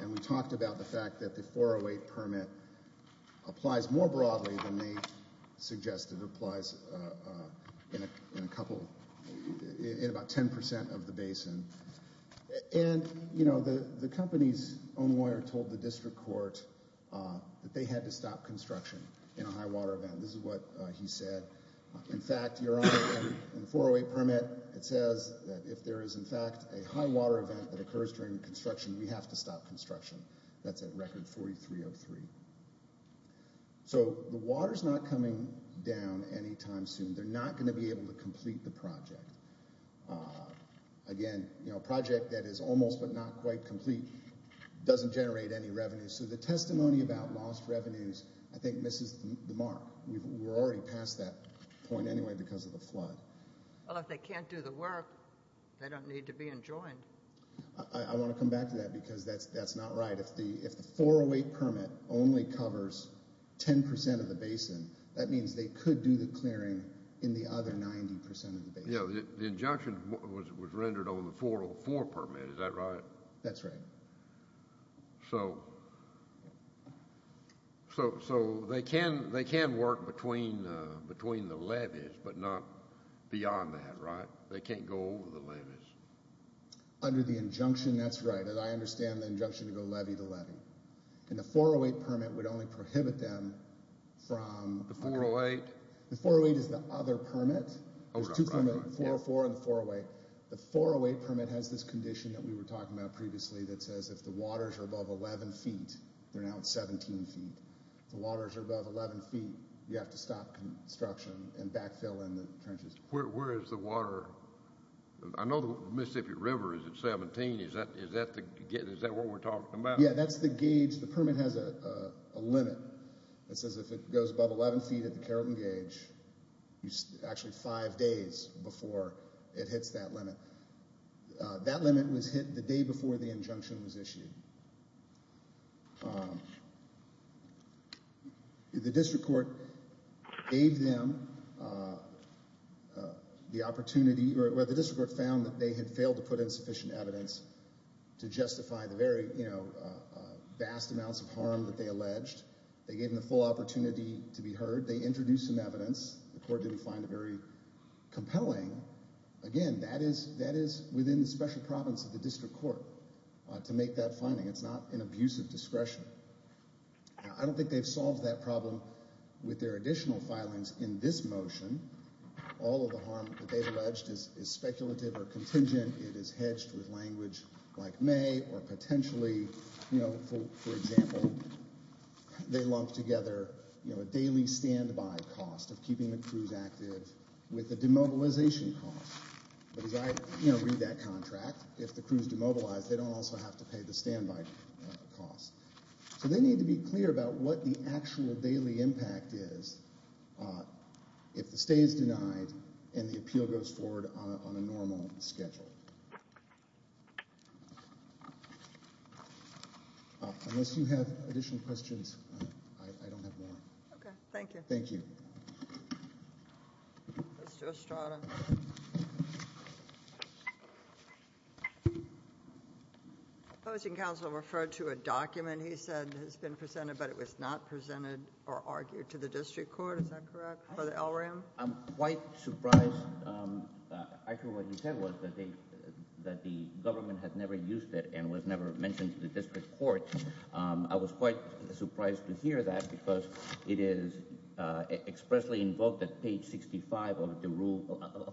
And we talked about the fact that the 408 permit applies more broadly than they suggested applies in a couple – in about 10 percent of the basin. And, you know, the company's own lawyer told the district court that they had to stop construction in a high-water event. This is what he said. In fact, your own 408 permit, it says that if there is, in fact, a high-water event that occurs during construction, we have to stop construction. That's at record 4303. So the water's not coming down any time soon. They're not going to be able to complete the project. Again, you know, a project that is almost but not quite complete doesn't generate any revenue. So the testimony about lost revenues, I think, misses the mark. We're already past that point anyway because of the flood. Well, if they can't do the work, they don't need to be enjoined. I want to come back to that because that's not right. If the 408 permit only covers 10 percent of the basin, that means they could do the clearing in the other 90 percent of the basin. You know, the injunction was rendered on the 404 permit. Is that right? That's right. So they can work between the levies but not beyond that, right? They can't go over the levies. Under the injunction, that's right. I understand the injunction is a levy to levy. And the 408 permit would only prohibit them from... The 408? The 408 is the other permit. There's two permits, the 404 and the 408. The 408 permit has this condition that we were talking about previously that says if the water's above 11 feet, we're now at 17 feet, the water's above 11 feet, you have to stop construction and backfill in the trenches. Where is the water? I know the Mississippi River is at 17. Is that what we're talking about? Yeah, that's the gauge. The permit has a limit that says if it goes above 11 feet, it's a keratin gauge. It's actually five days before it hits that limit. That limit was hit the day before the injunction was issued. The district court gave them the opportunity, or the district court found that they had failed to put in sufficient evidence to justify the very vast amounts of harm that they alleged. They gave them the full opportunity to be heard. They introduced some evidence. The court didn't find it very compelling. Again, that is within the special problems of the district court to make that finding. It's not an abuse of discretion. I don't think they've solved that problem with their additional filings in this motion. All of the harm that they alleged is speculative or contingent. It is hedged with language like may or potentially – for example, they lumped together a daily standby cost of keeping the crews active with a demobilization cost. Because I read that contract. If the crew is demobilized, they don't also have to pay the standby cost. So they need to be clear about what the actual daily impact is if the stay is denied and the appeal goes forward on a normal schedule. Unless you have additional questions, I don't have more. Thank you. Thank you. Let's go to Strada. Opposing counsel referred to a document he said has been presented but it was not presented or argued to the district court. Is that correct? For the LRAM? I'm quite surprised. I think what he said was that the government has never used it and was never mentioned to the district court. I was quite surprised to hear that because it is expressly invoked at page 65 of the Rule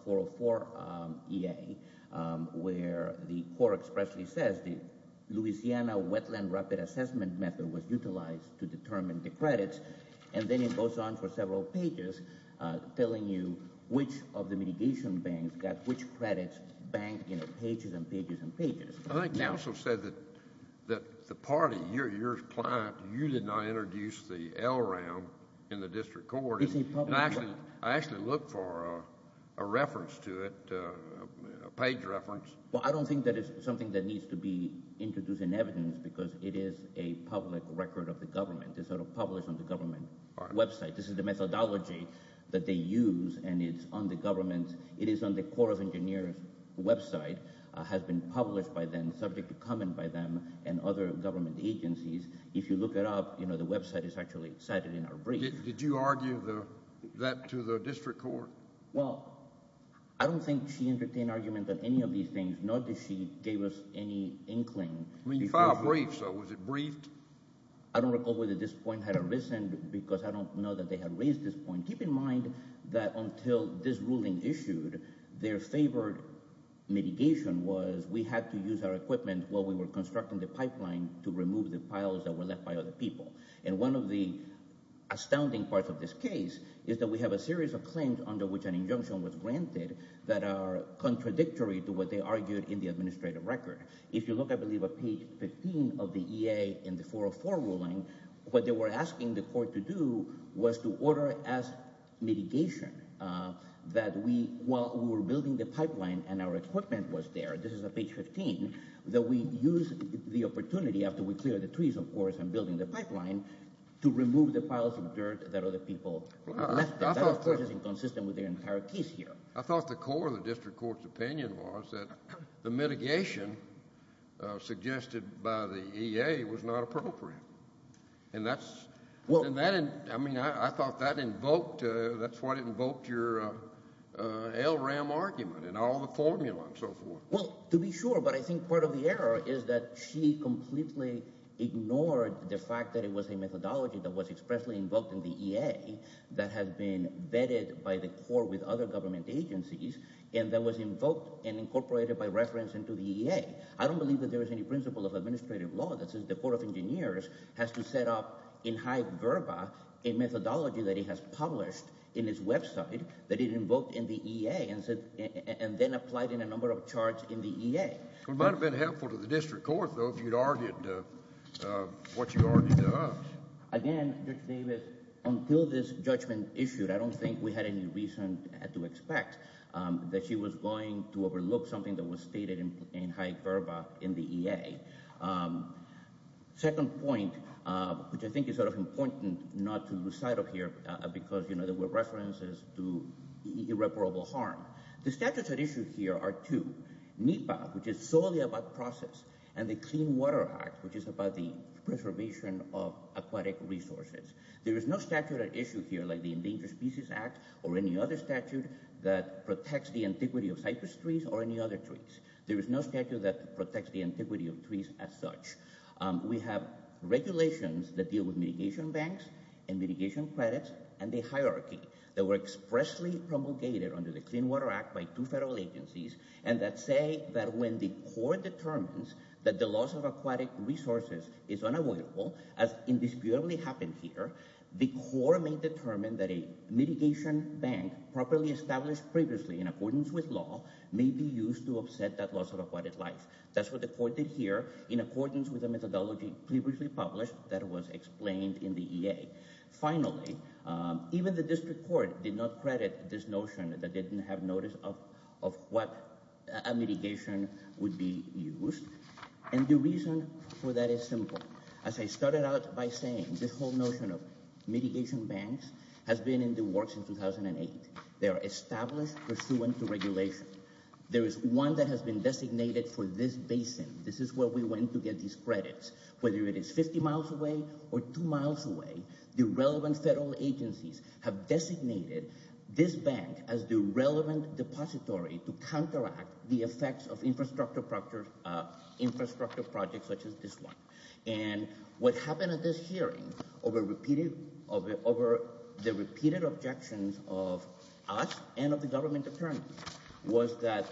404 EA where the court expressly says the Louisiana Wetland Rapid Assessment Method was utilized to determine the credits. And then it goes on for several pages telling you which of the mitigation banks got which I think counsel said that the party, your client, you did not introduce the LRAM in the district court. I actually looked for a reference to it, a page reference. Well, I don't think that is something that needs to be introduced in evidence because it is a public record of the government. It's sort of published on the government website. This is the methodology that they use and it's on the government. It is on the Corps of Engineers website, has been published by them, subject to comment by them and other government agencies. If you look it up, you know, the website is actually cited in her brief. Did you argue that to the district court? Well, I don't think she entertained argument that any of these things, nor did she gave us any inkling. I mean, if I briefed, so was it briefed? I don't recall whether this point had arisen because I don't know that they had raised this point. Keep in mind that until this ruling issued, their favorite mitigation was we had to use our equipment while we were constructing the pipeline to remove the piles that were left by other people. And one of the astounding parts of this case is that we have a series of claims under which an injunction was granted that are contradictory to what they argued in the administrative record. If you look, I believe, at page 15 of the EA in the 404 ruling, what they were asking the court to do was to order as mitigation that we, while we were building the pipeline and our equipment was there, this is on page 15, that we use the opportunity after we clear the trees, of course, and building the pipeline, to remove the piles of dirt that other people left. That of course is inconsistent with the entire case here. I thought the core of the district court's opinion was that the mitigation suggested by the EA was not appropriate. And that's, I mean, I thought that invoked, that's why it invoked your LRAM argument and all the formula and so forth. Well, to be sure, but I think part of the error is that she completely ignored the fact that it was a methodology that was expressly invoked in the EA that had been vetted by the court with other government agencies and that was invoked and incorporated by reference into the EA. I don't believe that there is any principle of administrative law that says the court of engineers has to set up in high verba a methodology that it has published in its website that it invoked in the EA and then applied in a number of charts in the EA. It might have been helpful to the district court, though, if you had argued what you argued to us. Again, Judge Davis, until this judgment issued, I don't think we had any reason to expect that she was going to overlook something that was stated in high verba in the EA. Second point, which I think is sort of important not to lose sight of here because, you know, there were references to irreparable harm. The statutes at issue here are two, NEPA, which is solely about process, and the Clean Water Act, which is about the preservation of aquatic resources. There is no statute at issue here like the Endangered Species Act or any other statute that protects the antiquity of cypress trees or any other trees. There is no statute that protects the antiquity of trees as such. We have regulations that deal with mitigation banks and mitigation credits and the hierarchy that were expressly promulgated under the Clean Water Act by two federal agencies and that say that when the court determines that the loss of aquatic resources is unavoidable, as indisputably happened here, the court may determine that a mitigation bank properly established previously in accordance with law may be used to offset that loss of aquatic life. That's what the court did here in accordance with the methodology previously published that was explained in the EA. Finally, even the district court did not credit this notion that they didn't have notice of what a mitigation would be used. And the reason for that is simple. As I started out by saying, this whole notion of mitigation banks has been in the works since 2008. They are established pursuant to regulations. There is one that has been designated for this basin. This is where we went to get these credits. Whether it is 50 miles away or two miles away, the relevant federal agencies have designated this bank as the relevant depository to counteract the effects of infrastructure projects such as this one. What happened at this hearing over the repeated objections of us and of the government attorneys was that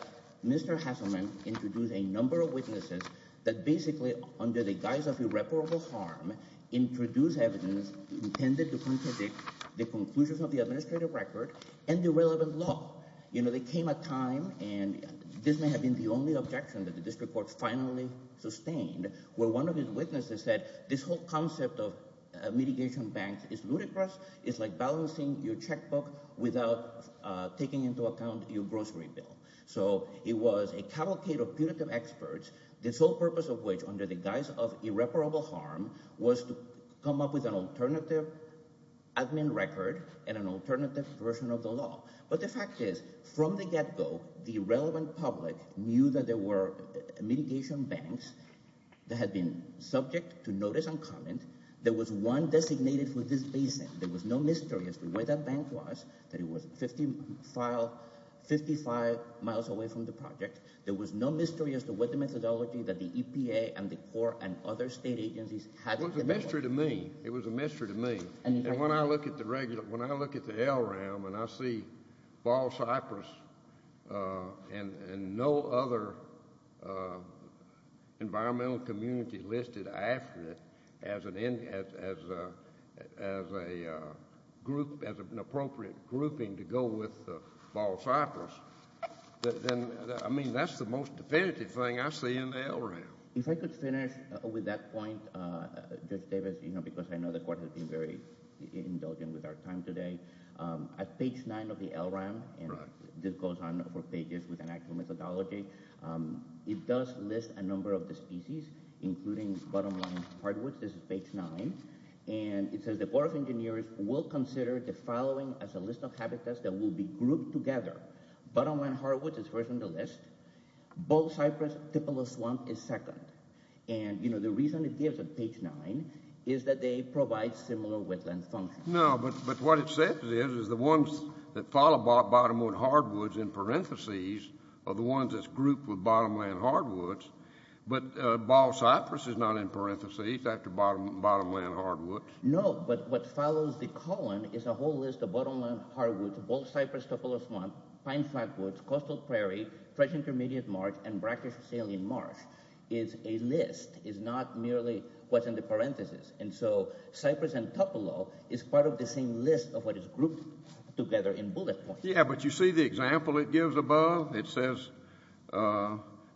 Mr. Hasselman introduced a number of witnesses that basically, under the guise of irreparable harm, introduced evidence intended to contradict the conclusion of the administrative record and the relevant law. They came at a time, and this may have been the only objection that the district court finally sustained, where one of his witnesses said, this whole concept of a mitigation bank is ludicrous. It's like balancing your checkbook without taking into account your grocery bill. So it was a cavalcade of punitive experts, the sole purpose of which, under the guise of irreparable harm, was to come up with an alternative admin record and an alternative version of the law. But the fact is, from the get-go, the relevant public knew that there were mitigation banks that had been subject to notice and comment. There was one designated for this reason. There was no mystery as to where that bank was, that it was 55 miles away from the project. There was no mystery as to what the methodology that the EPA and the court and other state agencies had in mind. It was a mystery to me. It was a mystery to me. When I look at the LRAM and I see Ball Cypress and no other environmental community listed after it as an appropriate grouping to go with Ball Cypress, I mean, that's the most definitive thing I see in the LRAM. If I could finish with that point, David, because I know the court has been very indulgent with our time today. At page 9 of the LRAM, and this goes on for pages with an actual methodology, it does list a number of the species, including bottomline hardwoods. This is page 9. And it says the court of engineers will consider the following as a list of habitats that will be grouped together. Bottomline hardwoods is first on the list. Ball Cypress, Pippalus swamp is second. And the reason it is on page 9 is that they provide similar width and function. No, but what it says is the ones that follow bottomline hardwoods in parentheses are the ones that's grouped with bottomline hardwoods. But Ball Cypress is not in parentheses after bottomline hardwoods. No, but what follows the colon is a whole list of bottomline hardwoods, Ball Cypress, Pippalus swamp, pine plantwoods, coastal prairies, fresh intermediate marsh, and brackish saline marsh is a list. It's not merely what's in the parentheses. And so Cypress and Pippalus is part of the same list of what is grouped together in bullet points. Yeah, but you see the example it gives above? It says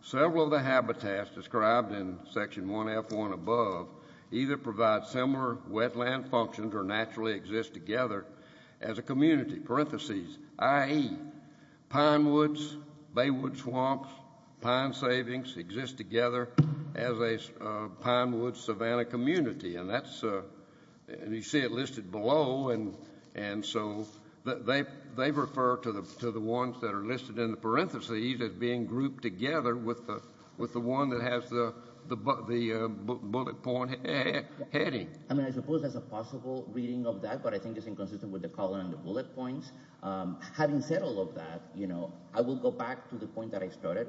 several of the habitats described in section 1F1 above either provide similar wetland functions or naturally exist together as a community. Parentheses, i.e., pinewoods, baywood swamps, pine savings exist together as a pinewood savanna community. And that's, and you see it listed below, and so they refer to the ones that are listed in the parentheses as being grouped together with the one that has the bullet point heading. I mean, I suppose that's a possible reading of that, but I think it's inconsistent with the column bullet points. Having said all of that, I will go back to the point that I started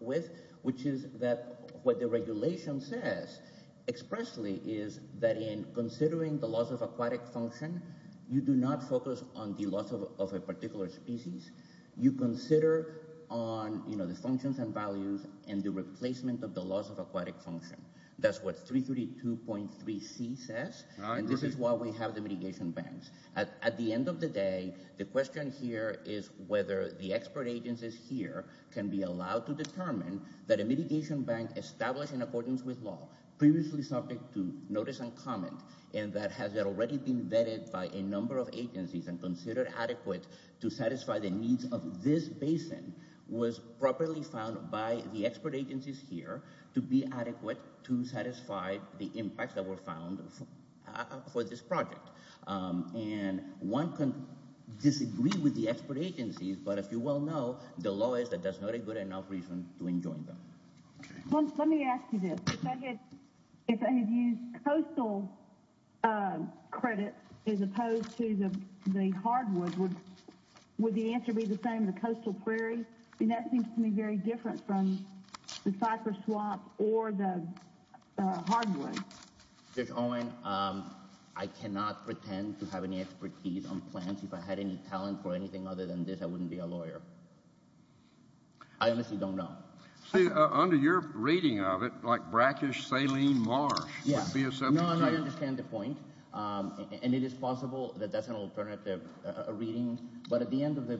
with, which is that what the regulation says expressly is that in considering the loss of aquatic function, you do not focus on the loss of a particular species. You consider on the functions and values and the replacement of the loss of aquatic function. That's what 332.3c says, and this is why we have the mitigation bands. At the end of the day, the question here is whether the expert agencies here can be allowed to determine that a mitigation band established in accordance with law, previously subject to notice and comment, and that has already been vetted by a number of agencies and considered adequate to satisfy the needs of this basin, was properly found by the expert agencies here to be adequate to satisfy the impact that were found for this project. And one can disagree with the expert agencies, but if you well know, the law is that there's not a good enough reason to enjoin them. Tom, let me ask you this. If I had used coastal credit as opposed to the hardwood, would the answer be the same, the coastal prairie? I mean, that seems to me very different from the cypress swamp or the hardwood. Judge Owen, I cannot pretend to have any expertise on plants. If I had any talent for anything other than this, I wouldn't be a lawyer. I honestly don't know. Under your reading of it, like brackish saline marsh would be a substitute. No, I understand the point, and it is possible that that's an alternative reading, but at the end of the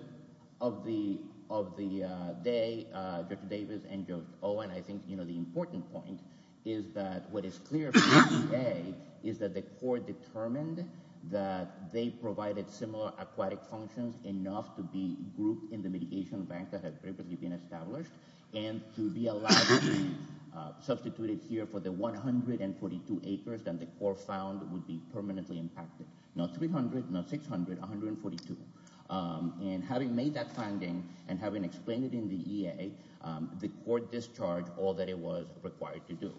day, Judge Davis and Judge Owen, I think the important point is that what is clear from the EA is that the court determined that they provided similar aquatic functions enough to be grouped in the mitigation bank that had previously been established and to be allowed to be substituted here for the 142 acres that the court found would be permanently impacted. Not 300, not 600, 142. And having made that finding and having explained it in the EA, the court discharged all that it was required to do.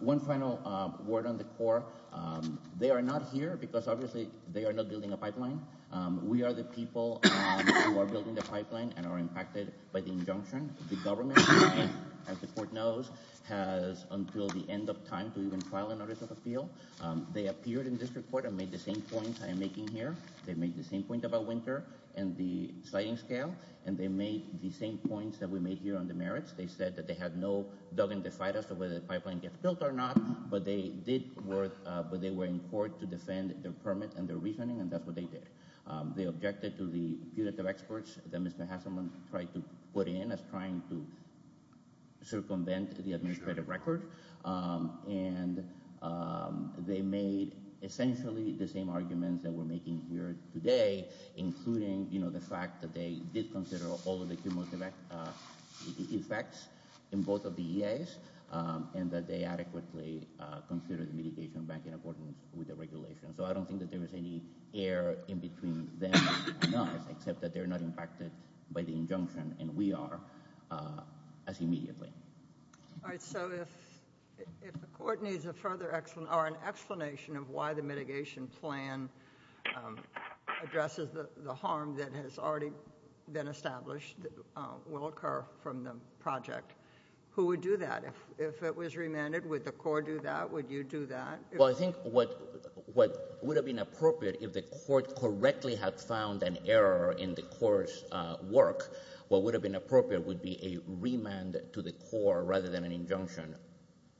One final word on the court. They are not here because obviously they are not building a pipeline. We are the people who are building the pipeline and are impacted by the injunction. The government, as the court knows, has until the end of time to even file an article of appeal. They appeared in this report and made the same point I'm making here. They made the same point about winter and the science scale, and they made the same points that we made here on the merits. They said that they had no dubbing to decide as to whether the pipeline gets built or not, but they did work, but they were in court to defend their permit and their reasoning, and that's what they did. They objected to the punitive experts that Mr. Hasselman tried to put in as trying to circumvent the administrative record, and they made essentially the same arguments that we're making here today, including, you know, the fact that they did consider all of the environmental effects in both of the EAs, and that they adequately considered mitigation back in accordance with the regulation. So I don't think that there is any air in between them and us, except that they're not impacted by the injunction, and we are, as immediately. All right. So if the court needs a further explanation of why the mitigation plan addresses the harm that has already been established that will occur from the project, who would do that? If it was remanded, would the court do that? Would you do that? Well, I think what would have been appropriate if the court correctly had found an error in the court's work, what would have been appropriate would be a remand to the court rather than an injunction,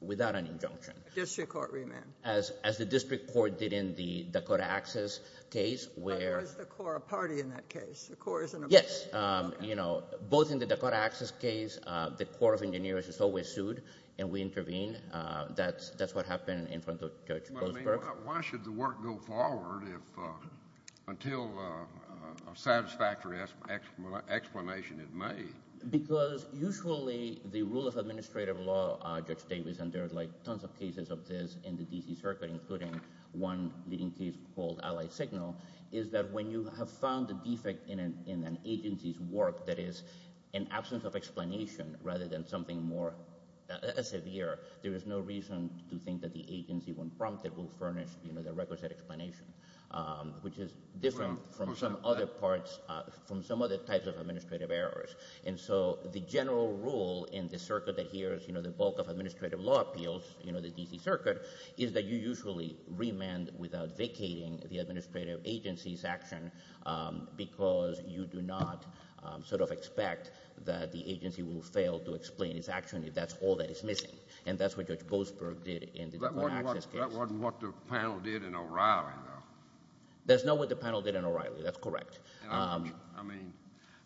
without an injunction. District court remand. As the district court did in the Dakota Access case, where... The Dakota party in that case. The court is in a... Yes. You know, both in the Dakota Access case, the court of engineers is always sued, and we intervene. That's what happened in front of Judge Goldsberg. Why should the work go forward until a satisfactory explanation is made? Because usually the rule of administrative law, Judge Davis, and there are like tons of cases of this in the D.C. Circuit, including one leading case called Allied Signal, is that when you have found a defect in an agency's work that is in absence of explanation rather than something more severe, there is no reason to think that the agency, when prompted, will furnish the requisite explanation, which is different from some other parts, from some other types of administrative errors. And so the general rule in the circuit that here is the bulk of administrative law appeals, the D.C. Circuit, is that you usually remand without vacating the administrative agency's action because you do not sort of expect that the agency will fail to explain its action if that's all that is missing. And that's what Judge Goldsberg did in the Dakota Access case. That wasn't what the panel did in O'Reilly, though. That's not what the panel did in O'Reilly. That's correct. I mean,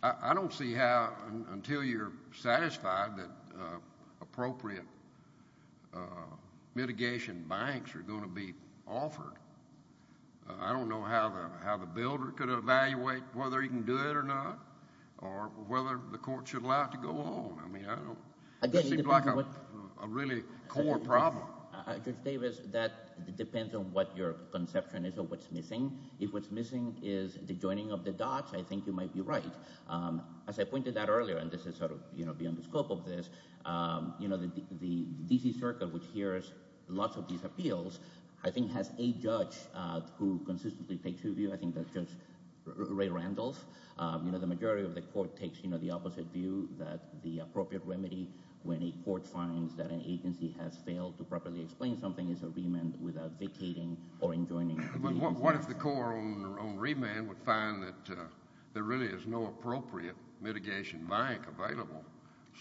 I don't see how, until you're satisfied that appropriate mitigation banks are going to be offered, I don't know how the builder could evaluate whether he can do it or not, or whether the court should allow it to go on. I mean, I don't know. That would be like a really core problem. Judge Davis, that depends on what your conception is of what's missing. If what's missing is the joining of the dots, I think you might be right. As I pointed out earlier, and this is sort of, you know, beyond the scope of this, you know, the scope of these appeals, I think it has a judge who consistently takes your view. I think that's Judge Ray Randolph. You know, the majority of the court takes, you know, the opposite view that the appropriate remedy, when a court finds that an agency has failed to properly explain something, is a remand without dictating or enjoining. But what if the court on remand would find that there really is no appropriate mitigation bank available?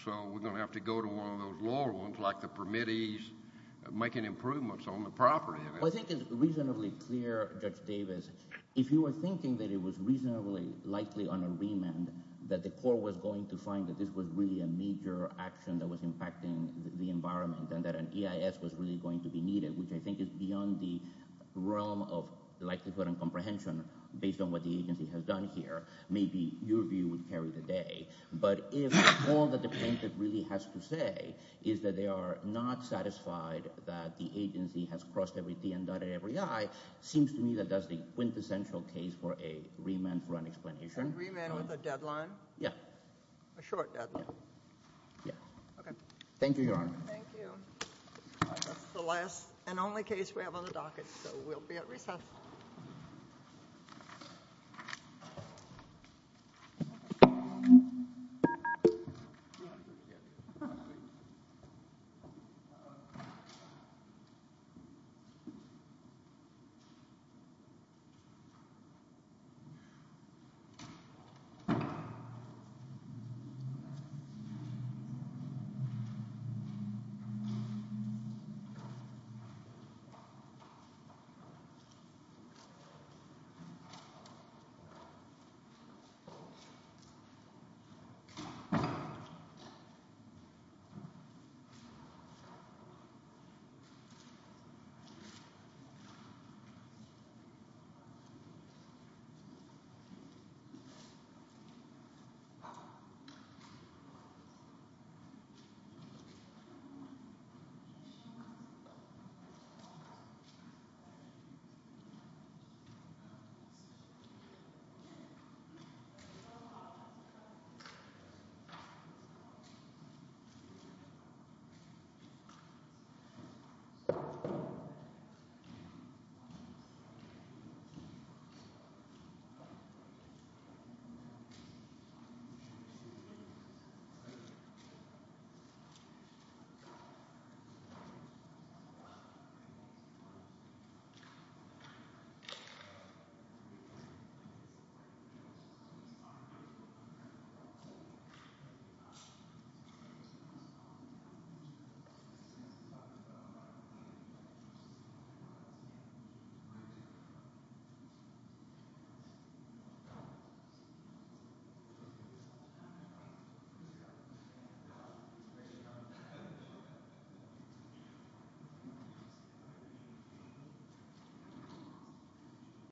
So we're going to have to go to one of those lower ones, like the permittees, making improvements on the property. I think it's reasonably clear, Judge Davis, if you were thinking that it was reasonably likely on a remand that the court was going to find that this was really a major action that was impacting the environment and that an EIS was really going to be needed, which I think is beyond the realm of likelihood and comprehension based on what the agency has done here. Maybe your view would carry the day. But if all that the plaintiff really has to say is that they are not satisfied that the agency has crossed every T and dotted every I, it seems to me that that's the quintessential case for a remand for unexplanation. A remand with a deadline? Yes. A short deadline? Yes. Okay. Thank you, Your Honor. Thank you. That's the last and only case we have on the docket, so we'll be at recess. Thank you, Your Honor. Thank you.